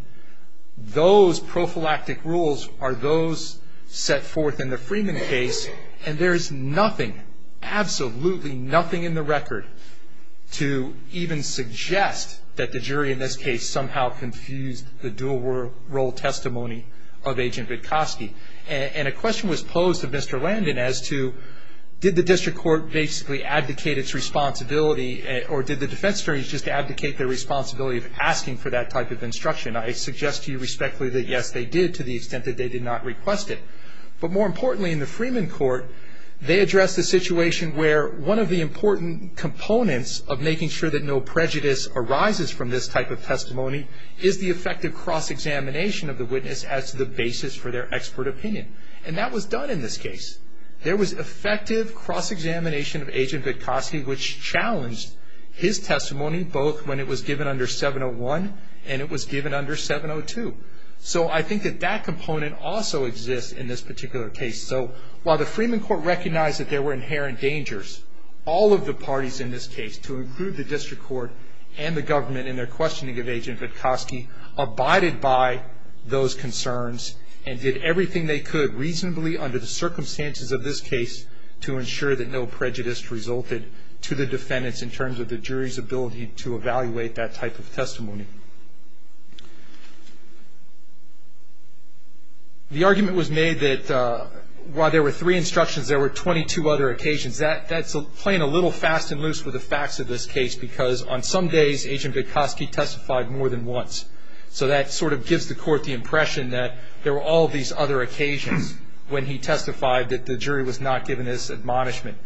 Those prophylactic rules are those set forth in the Freeman case, and there is nothing, absolutely nothing in the record to even suggest that the jury in this case somehow confused the dual role testimony of Agent Vitkoski. And a question was posed to Mr. Landon as to did the district court basically advocate its responsibility or did the defense attorneys just advocate their responsibility of asking for that type of instruction. I suggest to you respectfully that, yes, they did to the extent that they did not request it. But more importantly, in the Freeman court, they addressed the situation where one of the important components of making sure that no prejudice arises from this type of testimony is the effective cross-examination of the witness as the basis for their expert opinion. And that was done in this case. There was effective cross-examination of Agent Vitkoski, which challenged his testimony, both when it was given under 701 and it was given under 702. So I think that that component also exists in this particular case. So while the Freeman court recognized that there were inherent dangers, all of the parties in this case, to include the district court and the government in their questioning of Agent Vitkoski, abided by those concerns and did everything they could reasonably under the circumstances of this case to ensure that no prejudice resulted to the defendants in terms of the jury's ability to evaluate that type of testimony. The argument was made that while there were three instructions, there were 22 other occasions. That's playing a little fast and loose with the facts of this case, because on some days Agent Vitkoski testified more than once. So that sort of gives the court the impression that there were all these other occasions when he testified that the jury was not given this admonishment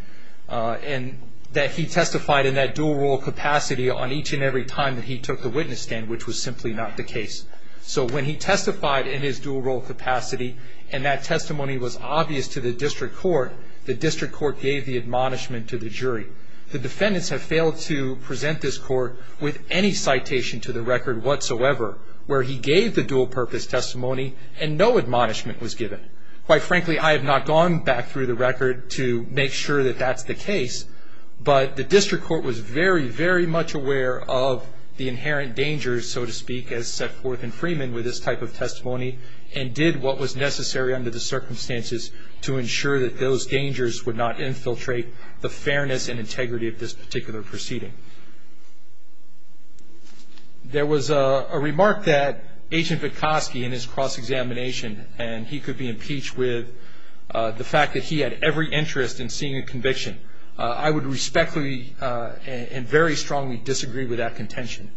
and that he testified in that dual role capacity on each and every time that he took the witness stand, which was simply not the case. So when he testified in his dual role capacity and that testimony was obvious to the district court, the district court gave the admonishment to the jury. The defendants have failed to present this court with any citation to the record whatsoever where he gave the dual purpose testimony and no admonishment was given. Quite frankly, I have not gone back through the record to make sure that that's the case, but the district court was very, very much aware of the inherent dangers, so to speak, as set forth in Freeman with this type of testimony and did what was necessary under the circumstances to ensure that those dangers would not infiltrate the fairness and integrity of this particular proceeding. There was a remark that Agent Vitkovsky, in his cross-examination, and he could be impeached with the fact that he had every interest in seeing a conviction. I would respectfully and very strongly disagree with that contention.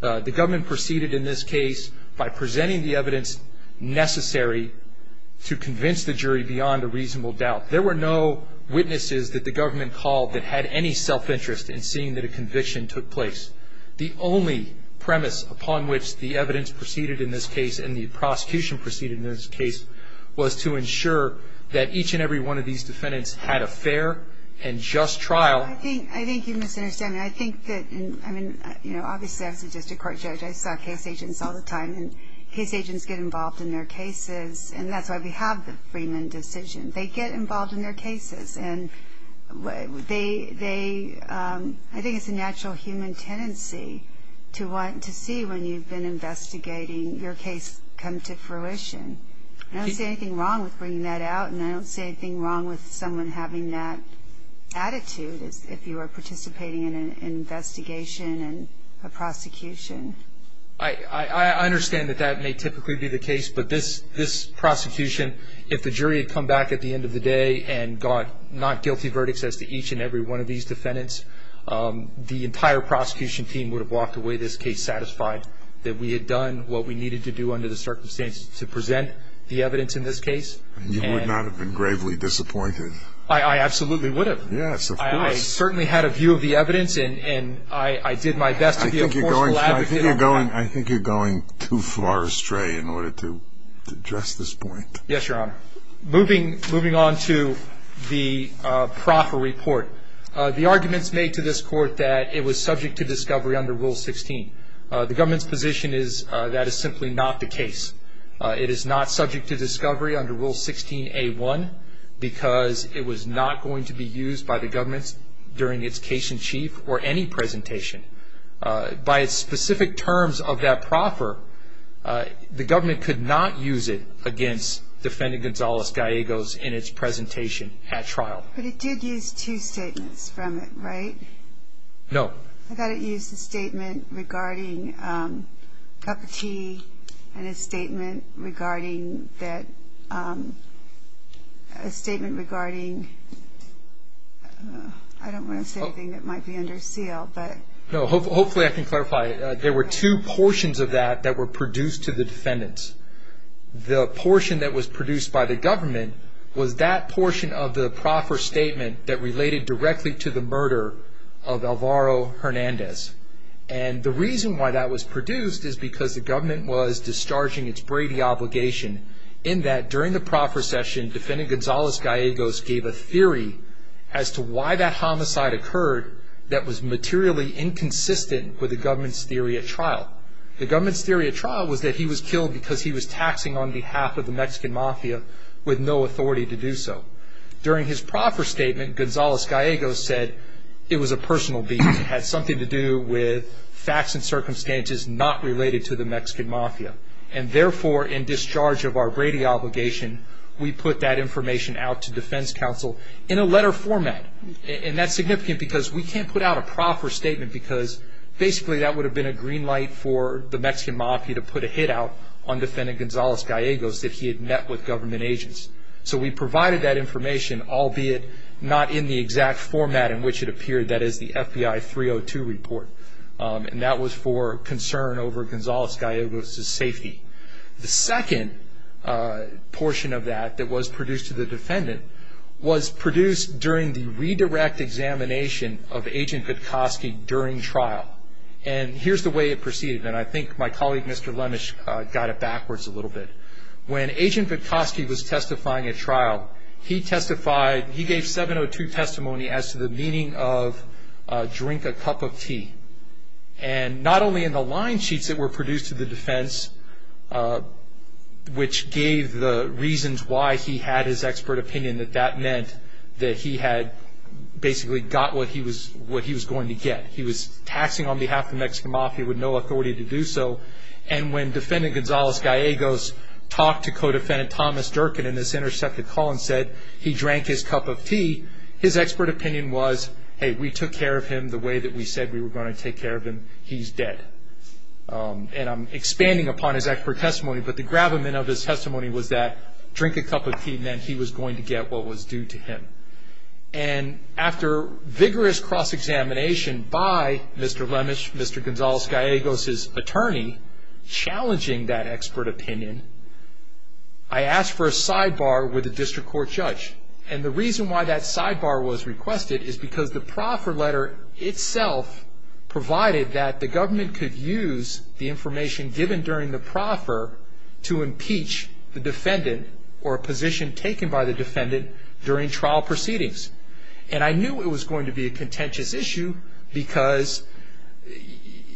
The government proceeded in this case by presenting the evidence necessary to convince the jury beyond a reasonable doubt. There were no witnesses that the government called that had any self-interest in seeing that a conviction took place. The only premise upon which the evidence proceeded in this case and the prosecution proceeded in this case was to ensure that each and every one of these defendants had a fair and just trial. I think you misunderstand me. I think that, I mean, you know, obviously, as a district court judge, I suspect case agents all the time, and case agents get involved in their cases, and that's why we have the Freeman decision. They get involved in their cases, and they, I think it's a natural human tendency to want to see, when you've been investigating, your case comes to fruition. I don't see anything wrong with bringing that out, and I don't see anything wrong with someone having that attitude if you are participating in an investigation and a prosecution. I understand that that may typically be the case, but this prosecution, if the jury had come back at the end of the day and got not guilty verdicts as to each and every one of these defendants, the entire prosecution team would have walked away this case satisfied that we had done what we needed to do under the circumstances to present the evidence in this case. You would not have been gravely disappointed. I absolutely would have. Yes, of course. I certainly had a view of the evidence, and I did my best to be a point of laughter. I think you're going too far astray in order to address this point. Yes, Your Honor. Moving on to the proper report. The arguments made to this court that it was subject to discovery under Rule 16. The government's position is that is simply not the case. It is not subject to discovery under Rule 16A1 because it was not going to be used by the government during its case in chief or any presentation. By specific terms of that proffer, the government could not use it against Defendant Gonzalez-Gallegos in its presentation at trial. But it did use two statements from it, right? No. I thought it used a statement regarding Tupper Key and a statement regarding that, a statement regarding, I don't want to say anything that might be under seal, but. No, hopefully I can clarify it. There were two portions of that that were produced to the defendants. The portion that was produced by the government was that portion of the proffer statement that related directly to the murder of Alvaro Hernandez. And the reason why that was produced is because the government was discharging its Brady obligation in that during the proffer session, Defendant Gonzalez-Gallegos gave a theory as to why that homicide occurred that was materially inconsistent with the government's theory at trial. The government's theory at trial was that he was killed because he was taxing on behalf of the Mexican Mafia with no authority to do so. During his proffer statement, Gonzalez-Gallegos said it was a personal beast. It had something to do with facts and circumstances not related to the Mexican Mafia. And therefore, in discharge of our Brady obligation, we put that information out to defense counsel in a letter format. And that's significant because we can't put out a proffer statement because basically that would have been a green light for the Mexican Mafia to put a hit out on Defendant Gonzalez-Gallegos if he had met with government agents. So we provided that information, albeit not in the exact format in which it appeared, that is the FBI 302 report. And that was for concern over Gonzalez-Gallegos' safety. The second portion of that that was produced to the defendant was produced during the redirect examination of Agent Vitkoski during trial. And here's the way it proceeded. And I think my colleague, Mr. Lemesh, got it backwards a little bit. He testified, he gave 702 testimony as to the meaning of drink a cup of tea. And not only in the line sheets that were produced to the defense, which gave the reasons why he had his expert opinion, that that meant that he had basically got what he was going to get. He was taxing on behalf of the Mexican Mafia with no authority to do so. And when Defendant Gonzalez-Gallegos talked to Codefendant Thomas Durkin in this intercepted call and said he drank his cup of tea, his expert opinion was, hey, we took care of him the way that we said we were going to take care of him. He's dead. And I'm expanding upon his expert testimony, but the gravamen of his testimony was that drink a cup of tea meant he was going to get what was due to him. And after vigorous cross-examination by Mr. Lemesh, Mr. Gonzalez-Gallegos' attorney, challenging that expert opinion, I asked for a sidebar with a district court judge. And the reason why that sidebar was requested is because the proffer letter itself provided that the government could use the information given during the proffer to impeach the defendant or a position taken by the defendant during trial proceedings. And I knew it was going to be a contentious issue because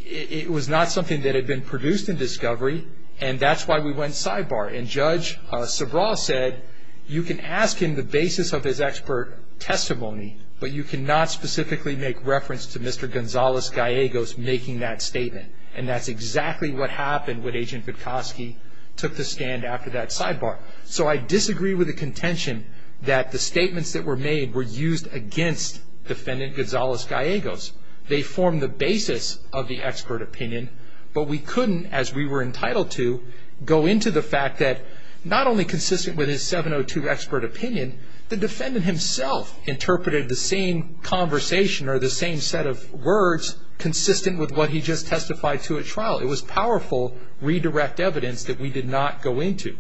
it was not something that had been produced in discovery, and that's why we went sidebar. And Judge Sobral said you can ask him the basis of his expert testimony, but you cannot specifically make reference to Mr. Gonzalez-Gallegos making that statement. And that's exactly what happened when Agent Gutkowski took the stand after that sidebar. So I disagree with the contention that the statements that were made were used against defendant Gonzalez-Gallegos. They formed the basis of the expert opinion, but we couldn't, as we were entitled to, go into the fact that not only consistent with his 702 expert opinion, the defendant himself interpreted the same conversation or the same set of words consistent with what he just testified to at trial. It was powerful redirect evidence that we did not go into.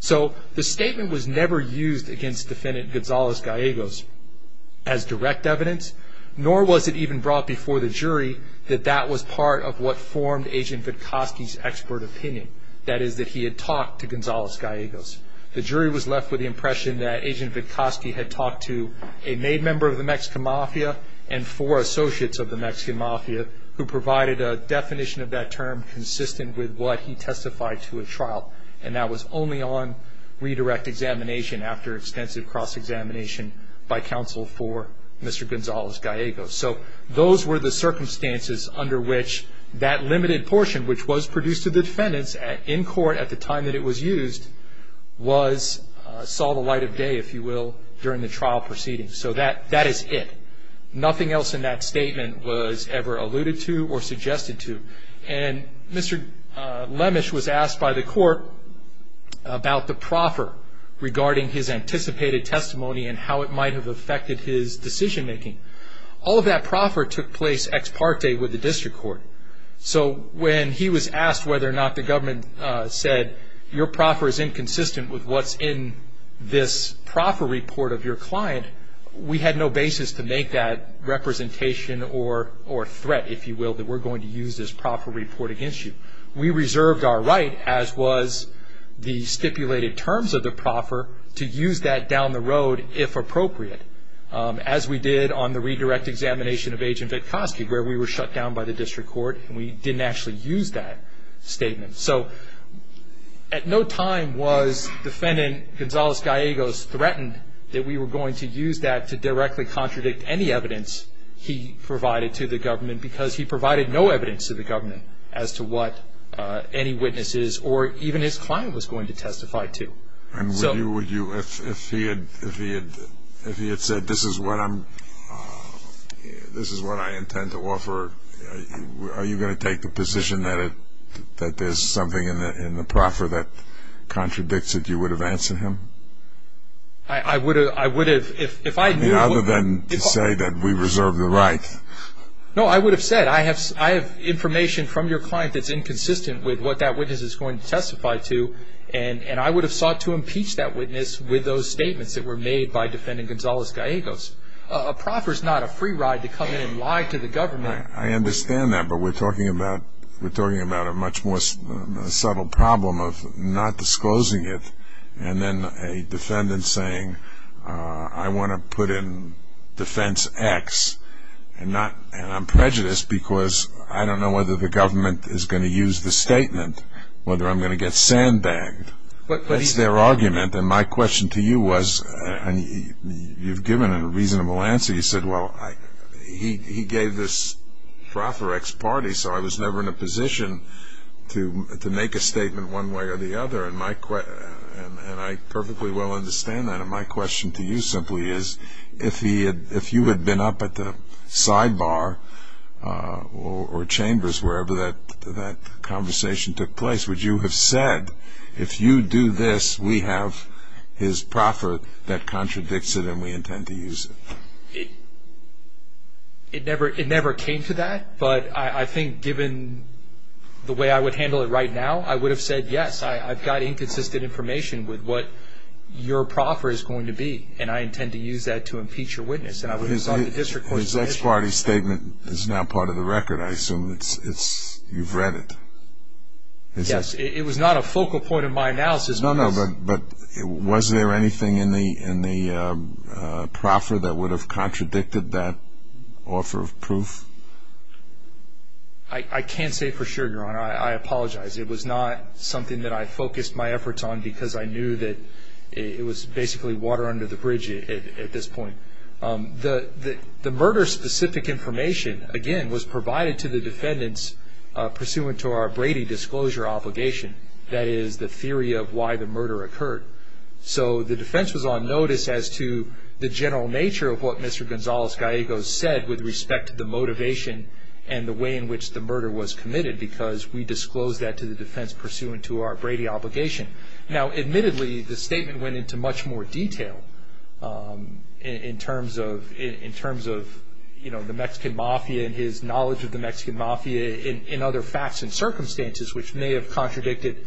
So the statement was never used against defendant Gonzalez-Gallegos as direct evidence, nor was it even brought before the jury that that was part of what formed Agent Gutkowski's expert opinion, that is that he had talked to Gonzalez-Gallegos. The jury was left with the impression that Agent Gutkowski had talked to a maid member of the Mexican mafia and four associates of the Mexican mafia who provided a definition of that term consistent with what he testified to at trial. And that was only on redirect examination after extensive cross-examination by counsel for Mr. Gonzalez-Gallegos. So those were the circumstances under which that limited portion, which was produced to defendants in court at the time that it was used, saw the light of day, if you will, during the trial proceedings. So that is it. Nothing else in that statement was ever alluded to or suggested to. And Mr. Lemesh was asked by the court about the proffer regarding his anticipated testimony and how it might have affected his decision-making. All of that proffer took place ex parte with the district court. So when he was asked whether or not the government said, your proffer is inconsistent with what's in this proffer report of your client, we had no basis to make that representation or threat, if you will, that we're going to use this proffer report against you. We reserved our right, as was the stipulated terms of the proffer, to use that down the road if appropriate, as we did on the redirect examination of Agent Gutkowski, where we were shut down by the district court and we didn't actually use that statement. So at no time was defendant Gonzales-Diagos threatened that we were going to use that to directly contradict any evidence he provided to the government because he provided no evidence to the government as to what any witnesses or even his client was going to testify to. And would you, if he had said, this is what I intend to offer, are you going to take the position that there's something in the proffer that contradicts it, you would have answered him? I would have. Other than to say that we reserved the right. No, I would have said, I have information from your client that's inconsistent with what that witness is going to testify to, and I would have sought to impeach that witness with those statements that were made by defendant Gonzales-Diagos. A proffer is not a free ride to come in and lie to the government. I understand that, but we're talking about a much more subtle problem of not disclosing it, and then a defendant saying, I want to put in defense X, and I'm prejudiced because I don't know whether the government is going to use the statement, whether I'm going to get sandbagged. What's their argument? And my question to you was, you've given a reasonable answer. You said, well, he gave this proffer X party, so I was never in a position to make a statement one way or the other, and I perfectly well understand that. And my question to you simply is, if you had been up at the sidebar or chambers, wherever that conversation took place, would you have said, if you do this, we have his proffer that contradicts it and we intend to use it? It never came to that, but I think given the way I would handle it right now, I would have said yes. I've got inconsistent information with what your proffer is going to be, and I intend to use that to impeach your witness, and I would have sought the district court's permission. So his X party statement is now part of the record, I assume. You've read it. Yes. It was not a focal point of my analysis. No, no, but was there anything in the proffer that would have contradicted that offer of proof? I can't say for sure, Your Honor. I apologize. It was not something that I focused my efforts on because I knew that it was basically water under the bridge at this point. The murder-specific information, again, was provided to the defendants pursuant to our Brady disclosure obligation. That is the theory of why the murder occurred. So the defense was on notice as to the general nature of what Mr. Gonzales-Gallegos said with respect to the motivation and the way in which the murder was committed because we disclosed that to the defense pursuant to our Brady obligation. Now, admittedly, the statement went into much more detail in terms of, you know, the Mexican mafia and his knowledge of the Mexican mafia and other facts and circumstances, which may have contradicted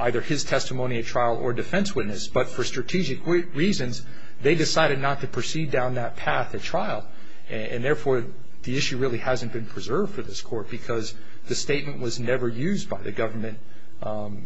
either his testimony at trial or defense witness. But for strategic reasons, they decided not to proceed down that path at trial, and therefore the issue really hasn't been preserved for this court because the statement was never used by the government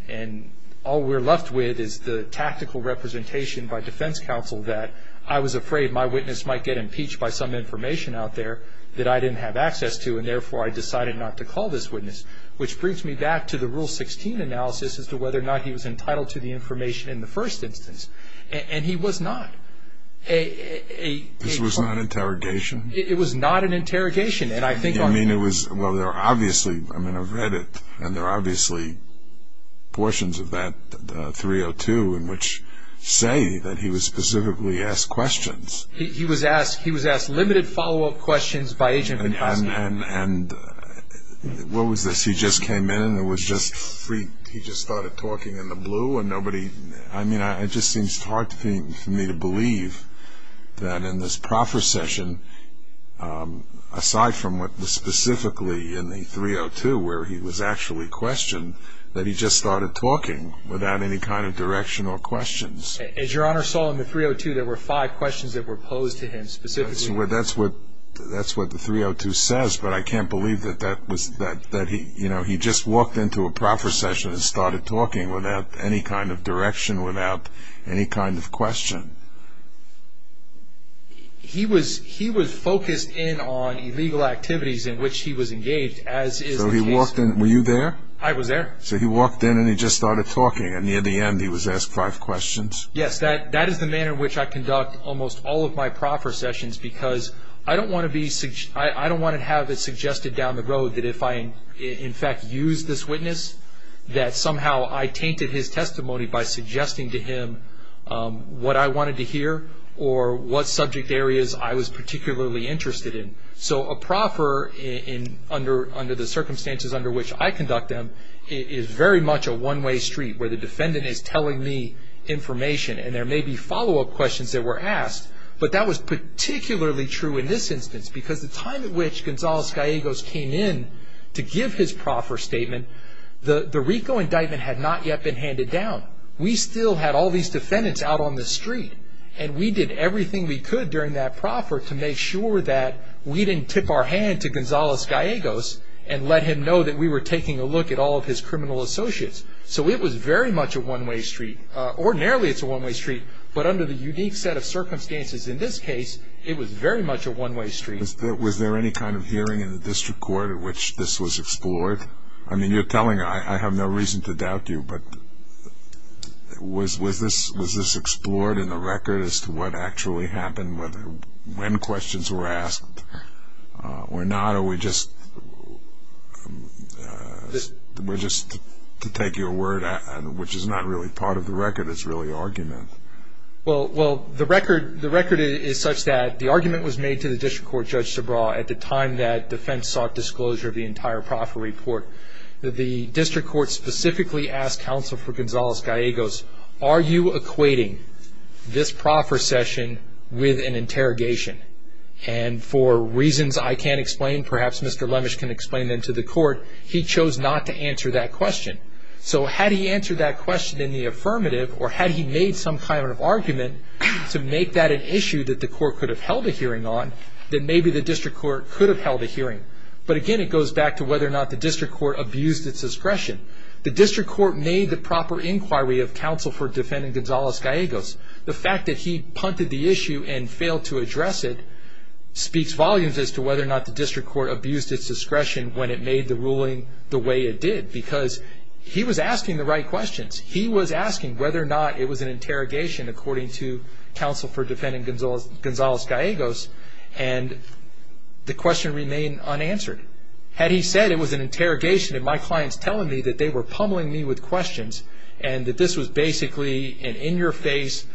and all we're left with is the tactical representation by defense counsel that I was afraid my witness might get impeached by some information out there that I didn't have access to, and therefore I decided not to call this witness, which brings me back to the Rule 16 analysis as to whether or not he was entitled to the information in the first instance. And he was not. It was not an interrogation? It was not an interrogation. Well, there are obviously, I mean, I've read it, and there are obviously portions of that 302 in which say that he was specifically asked questions. He was asked limited follow-up questions by Asian-Americans. And what was this? He just came in and he just started talking in the blue and nobody, I mean, it just seems hard for me to believe that in this proper session, aside from what was specifically in the 302, where he was actually questioned, that he just started talking without any kind of direction or questions. As Your Honor saw in the 302, there were five questions that were posed to him specifically. That's what the 302 says, but I can't believe that that was, that he, you know, he just walked into a proper session and started talking without any kind of direction, without any kind of question. He was focused in on illegal activities in which he was engaged. So he walked in, were you there? I was there. So he walked in and he just started talking, and near the end he was asked five questions? Yes, that is the manner in which I conduct almost all of my proper sessions, because I don't want to be, I don't want to have it suggested down the road that if I in fact used this witness, that somehow I tainted his testimony by suggesting to him what I wanted to hear or what subject areas I was particularly interested in. So a proper, under the circumstances under which I conduct them, is very much a one-way street, where the defendant is telling me information, and there may be follow-up questions that were asked, but that was particularly true in this instance, because the time in which Gonzales-Gallegos came in to give his proper statement, the RICO indictment had not yet been handed down. We still had all these defendants out on the street, and we did everything we could during that proper to make sure that we didn't tip our hand to Gonzales-Gallegos and let him know that we were taking a look at all of his criminal associates. So it was very much a one-way street. Ordinarily it's a one-way street, but under the unique set of circumstances in this case, it was very much a one-way street. Was there any kind of hearing in the district court at which this was explored? I mean, you're telling, I have no reason to doubt you, but was this explored in the record as to what actually happened, when questions were asked or not, or were we just to take your word, which is not really part of the record, it's really argument? Well, the record is such that the argument was made to the district court judge at the time that defense sought disclosure of the entire proper report. The district court specifically asked counsel for Gonzales-Gallegos, are you equating this proper session with an interrogation? And for reasons I can't explain, perhaps Mr. Lemesh can explain them to the court, he chose not to answer that question. So had he answered that question in the affirmative, or had he made some kind of argument to make that an issue that the court could have held a hearing on, then maybe the district court could have held a hearing. But again, it goes back to whether or not the district court abused its discretion. The district court made the proper inquiry of counsel for defendant Gonzales-Gallegos. The fact that he punted the issue and failed to address it speaks volumes as to whether or not the district court abused its discretion when it made the ruling the way it did, because he was asking the right questions. He was asking whether or not it was an interrogation, according to counsel for defendant Gonzales-Gallegos, and the question remained unanswered. Had he said it was an interrogation and my client's telling me that they were pummeling me with questions and that this was basically an in-your-face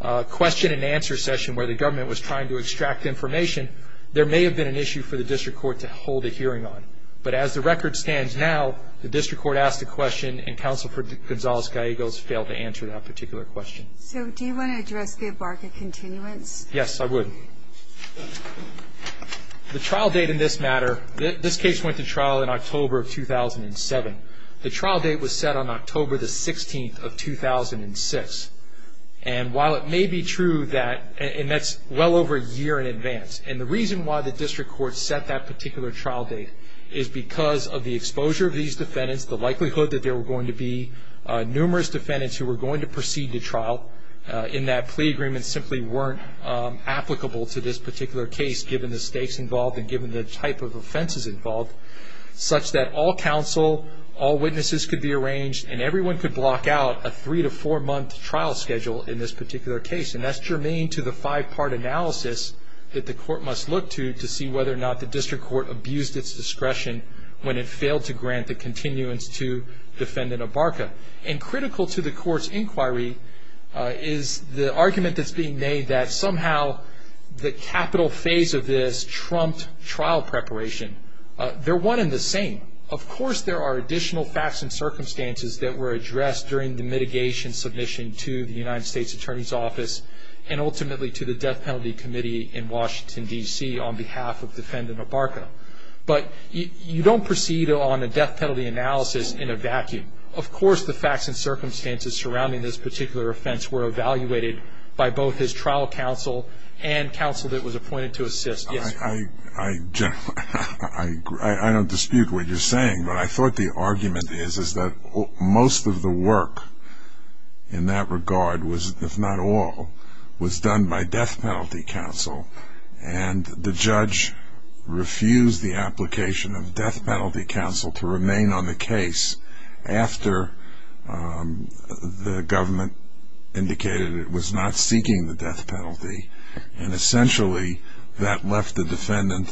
question-and-answer session where the government was trying to extract information, there may have been an issue for the district court to hold a hearing on. But as the record stands now, the district court asked a question and counsel for Gonzales-Gallegos failed to answer that particular question. So do you want to address the bargain continuance? Yes, I would. The trial date in this matter, this case went to trial in October of 2007. The trial date was set on October the 16th of 2006, and while it may be true that-and that's well over a year in advance- and the reason why the district court set that particular trial date is because of the exposure of these defendants, the likelihood that there were going to be numerous defendants who were going to proceed to trial in that plea agreements simply weren't applicable to this particular case, given the stakes involved and given the type of offenses involved, such that all counsel, all witnesses could be arranged, and everyone could block out a three- to four-month trial schedule in this particular case. And that's germane to the five-part analysis that the court must look to to see whether or not the district court abused its discretion when it failed to grant the continuance to Defendant Abarca. And critical to the court's inquiry is the argument that's being made that somehow the capital phase of this trumped trial preparation. They're one and the same. Of course there are additional facts and circumstances that were addressed during the mitigation submission to the United States Attorney's Office and ultimately to the Death Penalty Committee in Washington, D.C., on behalf of Defendant Abarca. But you don't proceed on a death penalty analysis in a vacuum. Of course the facts and circumstances surrounding this particular offense were evaluated by both his trial counsel and counsel that was appointed to assist. I don't dispute what you're saying, but I thought the argument is that most of the work in that regard, if not all, was done by death penalty counsel. And the judge refused the application of death penalty counsel to remain on the case after the government indicated it was not seeking the death penalty. And essentially that left the defendant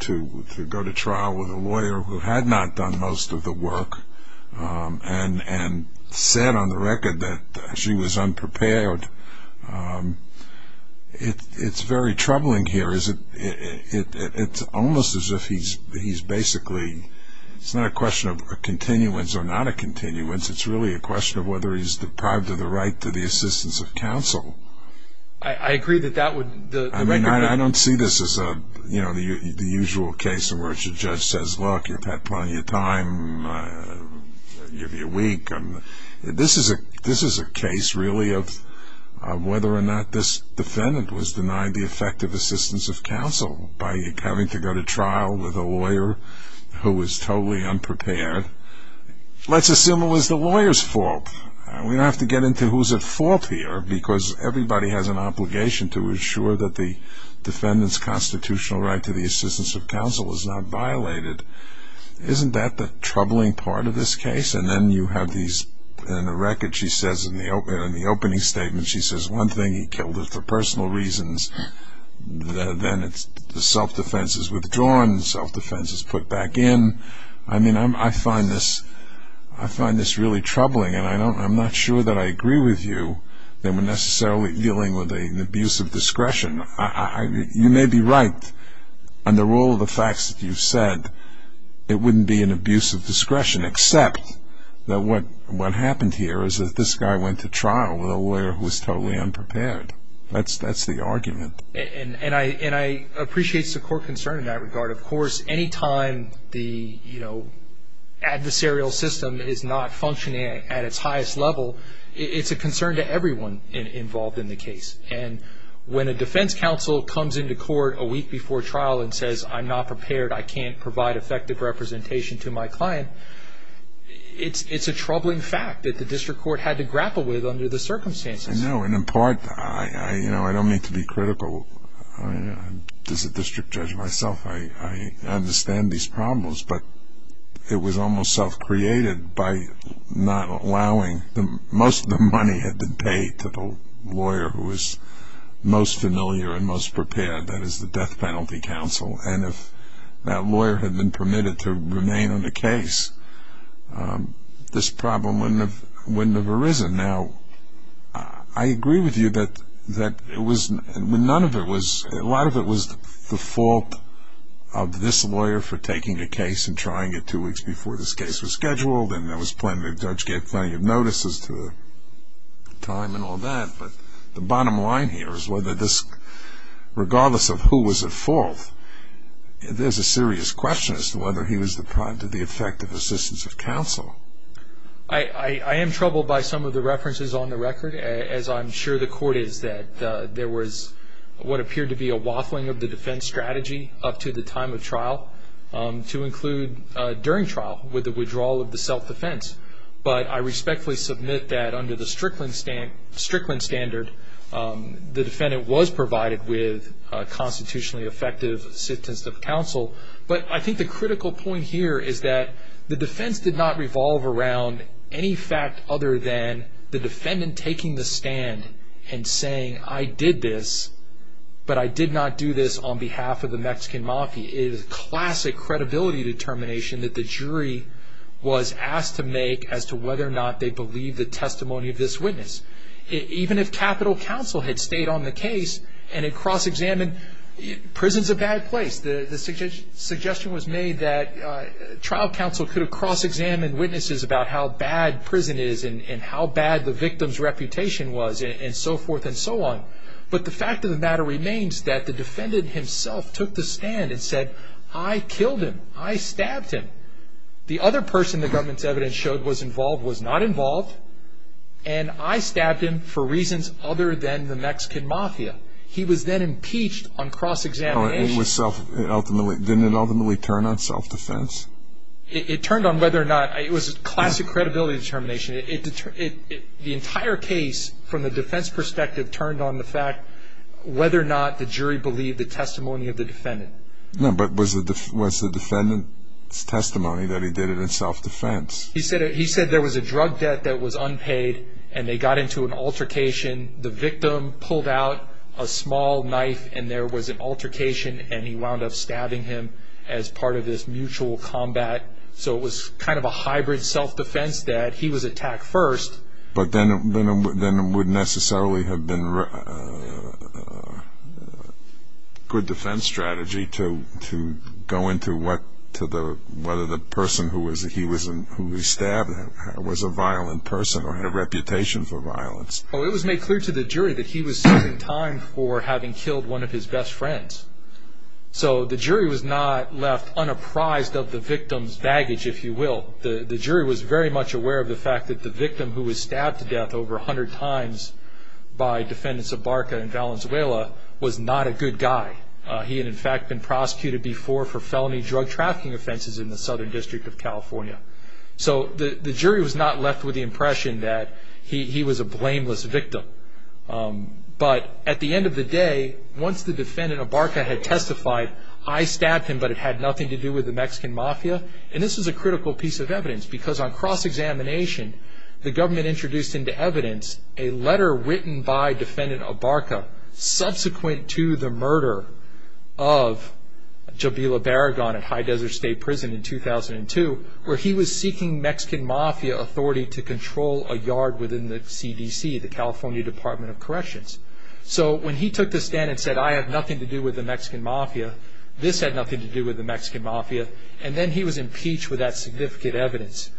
to go to trial with a lawyer who had not done most of the work and said on the record that she was unprepared. It's very troubling here. It's almost as if he's basically ñ it's not a question of continuance or not a continuance. It's really a question of whether he's deprived of the right to the assistance of counsel. I agree that that would ñ I don't see this as the usual case in which a judge says, look, you've had plenty of time, you're weak. This is a case really of whether or not this defendant was denied the effective assistance of counsel by having to go to trial with a lawyer who was totally unprepared. Let's assume it was the lawyer's fault. We have to get into who's at fault here because everybody has an obligation to ensure that the defendant's constitutional right to the assistance of counsel is not violated. Isn't that the troubling part of this case? And then you have these ñ in the record she says, in the opening statement she says, one thing he killed was for personal reasons. Then the self-defense is withdrawn, self-defense is put back in. I find this really troubling, and I'm not sure that I agree with you that we're necessarily dealing with an abuse of discretion. You may be right. Under all the facts that you've said, it wouldn't be an abuse of discretion, except that what happened here is that this guy went to trial with a lawyer who was totally unprepared. That's the argument. And I appreciate the court concern in that regard. Of course, any time the adversarial system is not functioning at its highest level, it's a concern to everyone involved in the case. And when a defense counsel comes into court a week before trial and says, I'm not prepared, I can't provide effective representation to my client, it's a troubling fact that the district court had to grapple with under the circumstances. I know, and in part, I don't mean to be critical. As a district judge myself, I understand these problems, but it was almost self-created by not allowing most of the money had been paid to the lawyer who was most familiar and most prepared, that is the death penalty counsel. And if that lawyer had been permitted to remain in the case, this problem wouldn't have arisen. Now, I agree with you that it was, none of it was, a lot of it was the fault of this lawyer for taking a case and trying it two weeks before this case was scheduled, and there was plenty of notices to the time and all that. But the bottom line here is whether this, regardless of who was at fault, there's a serious question as to whether he was deprived of the effective assistance of counsel. I am troubled by some of the references on the record, as I'm sure the court is, that there was what appeared to be a waffling of the defense strategy up to the time of trial to include during trial with the withdrawal of the self-defense. But I respectfully submit that under the Strickland standard, the defendant was provided with constitutionally effective assistance of counsel. But I think the critical point here is that the defense did not revolve around any fact other than the defendant taking the stand and saying, I did this, but I did not do this on behalf of the Mexican Mafia. It is a classic credibility determination that the jury was asked to make as to whether or not they believe the testimony of this witness. Even if capital counsel had stayed on the case and had cross-examined, prison's a bad place. The suggestion was made that trial counsel could have cross-examined witnesses about how bad prison is and how bad the victim's reputation was and so forth and so on. But the fact of the matter remains that the defendant himself took the stand and said, I killed him. I stabbed him. The other person the government's evidence showed was involved was not involved, and I stabbed him for reasons other than the Mexican Mafia. He was then impeached on cross-examination. Didn't it ultimately turn on self-defense? It turned on whether or not it was a classic credibility determination. The entire case, from the defense perspective, turned on the fact whether or not the jury believed the testimony of the defendant. No, but was the defendant's testimony that he did it in self-defense? He said there was a drug debt that was unpaid, and they got into an altercation. The victim pulled out a small knife, and there was an altercation, and he wound up stabbing him as part of this mutual combat. So it was kind of a hybrid self-defense that he was attacked first. But then it wouldn't necessarily have been a good defense strategy to go into whether the person who he stabbed was a violent person or had a reputation for violence. Well, it was made clear to the jury that he was serving time for having killed one of his best friends. So the jury was not left unapprised of the victim's baggage, if you will. The jury was very much aware of the fact that the victim, who was stabbed to death over 100 times by defendants of Barca and Valenzuela, was not a good guy. He had, in fact, been prosecuted before for felony drug trafficking offenses in the Southern District of California. So the jury was not left with the impression that he was a blameless victim. But at the end of the day, once the defendant of Barca had testified, I stabbed him, but it had nothing to do with the Mexican Mafia. And this is a critical piece of evidence, because on cross-examination, the government introduced into evidence a letter written by defendant of Barca subsequent to the murder of Jabila Baragon at High Desert State Prison in 2002, where he was seeking Mexican Mafia authority to control a yard within the CDC, the California Department of Corrections. So when he took the stand and said, I have nothing to do with the Mexican Mafia, this had nothing to do with the Mexican Mafia, and then he was impeached with that significant evidence,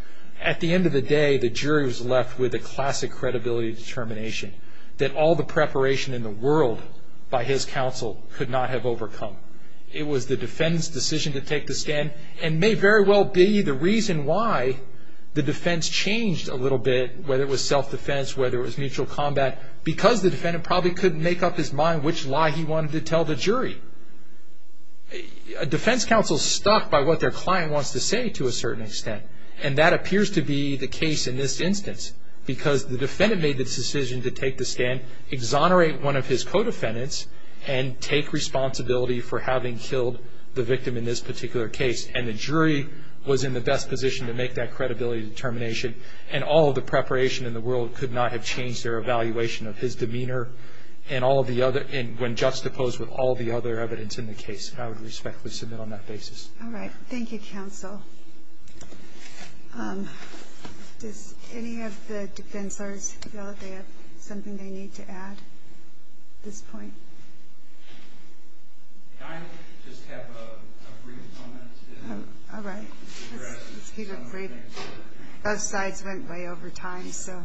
at the end of the day, the jury was left with a classic credibility determination that all the preparation in the world by his counsel could not have overcome. It was the defendant's decision to take the stand, and may very well be the reason why the defense changed a little bit, whether it was self-defense, whether it was mutual combat, because the defendant probably couldn't make up his mind which lie he wanted to tell the jury. A defense counsel is stuck by what their client wants to say to a certain extent, and that appears to be the case in this instance, because the defendant made the decision to take the stand, exonerate one of his co-defendants, and take responsibility for having killed the victim in this particular case, and the jury was in the best position to make that credibility determination, and all the preparation in the world could not have changed their evaluation of his demeanor, when juxtaposed with all the other evidence in the case. And I would respectfully submit on that basis. All right. Thank you, counsel. Any of the defense lawyers feel that they have something they need to add at this point? I just have a brief comment. All right. Keep it brief. Those slides went by over time, so.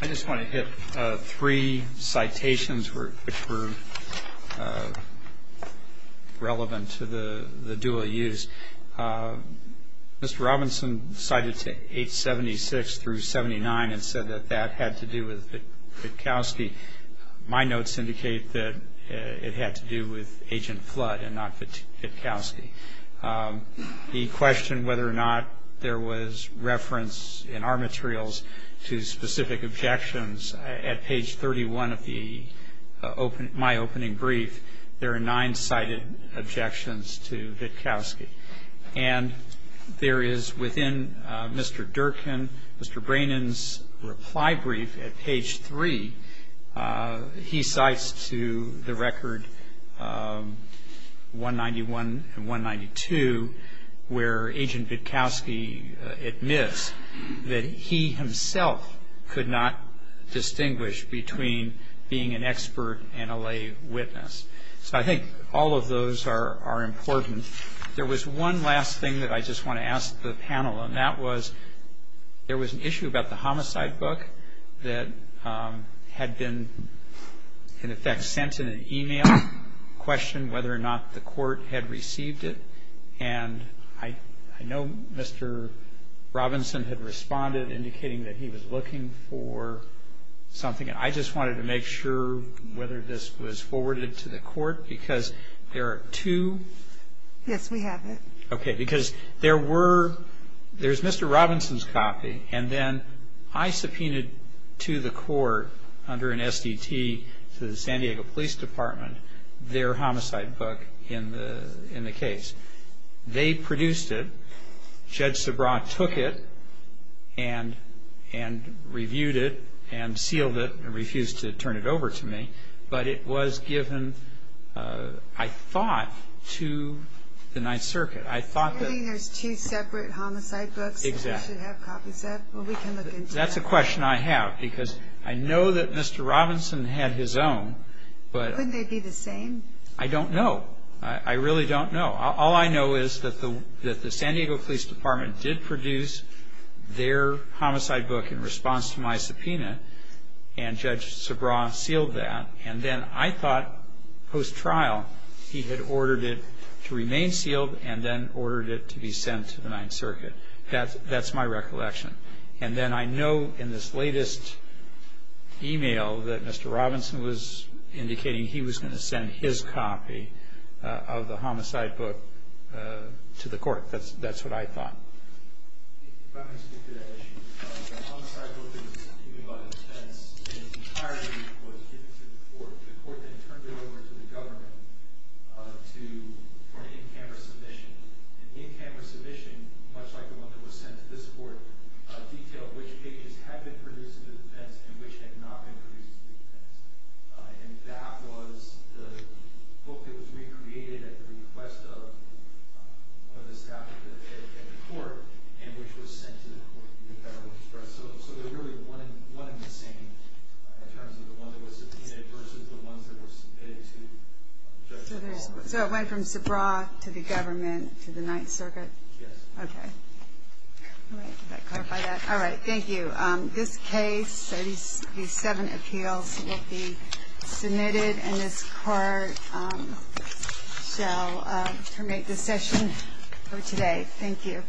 I just want to hit three citations which were relevant to the dual use. Mr. Robinson cited to 876 through 79 and said that that had to do with Fitkowsky. My notes indicate that it had to do with Agent Flood and not Fitkowsky. He questioned whether or not there was reference in our materials to specific objections. At page 31 of my opening brief, there are nine cited objections to Fitkowsky. And there is within Mr. Durkin, Mr. Brannon's reply brief at page three, he cites to the record 191 and 192 where Agent Fitkowsky admits that he himself could not distinguish between being an expert and a lay witness. So I think all of those are important. There was one last thing that I just want to ask the panel, and that was there was an issue about the homicide book that had been, in effect, sent in an e-mail, questioned whether or not the court had received it. And I know Mr. Robinson had responded indicating that he was looking for something. I just wanted to make sure whether this was forwarded to the court because there are two. Yes, we have it. Okay, because there were, there's Mr. Robinson's copy, and then I subpoenaed to the court under an SDT, the San Diego Police Department, their homicide book in the case. They produced it. Judge Sobrat took it and reviewed it and sealed it and refused to turn it over to me. But it was given, I thought, to the Ninth Circuit. I thought that... Subpoenaed two separate homicide books. Exactly. They should have copies of it. Well, we can look into that. That's a question I have because I know that Mr. Robinson had his own, but... Couldn't they be the same? I don't know. I really don't know. All I know is that the San Diego Police Department did produce their homicide book in response to my subpoena, and Judge Sobrat sealed that. And then I thought, post-trial, he had ordered it to remain sealed and then ordered it to be sent to the Ninth Circuit. That's my recollection. And then I know in this latest email that Mr. Robinson was indicating he was going to send his copy of the homicide book to the court. That's what I thought. If I may speak to that issue. The homicide book was received by the defendants. The entirety of it was given to the court. The court then turned it over to the government for an in-camera submission. And the in-camera submission, much like the one that was sent to this court, detailed which cases had been produced to the defendants and which had not been produced to the defendants. And that was the book that was recreated at the request of the defendant at the court in which it was sent to the court. So it was really one and the same. It was the one that was subpoenaed versus the one that was subpoenaed to Judge Sobrat. So it went from Sobrat to the government to the Ninth Circuit? Yes. Okay. All right. Thank you. This case, 37 appeals, will be submitted, and this court shall terminate the session for today. Thank you. Thank you.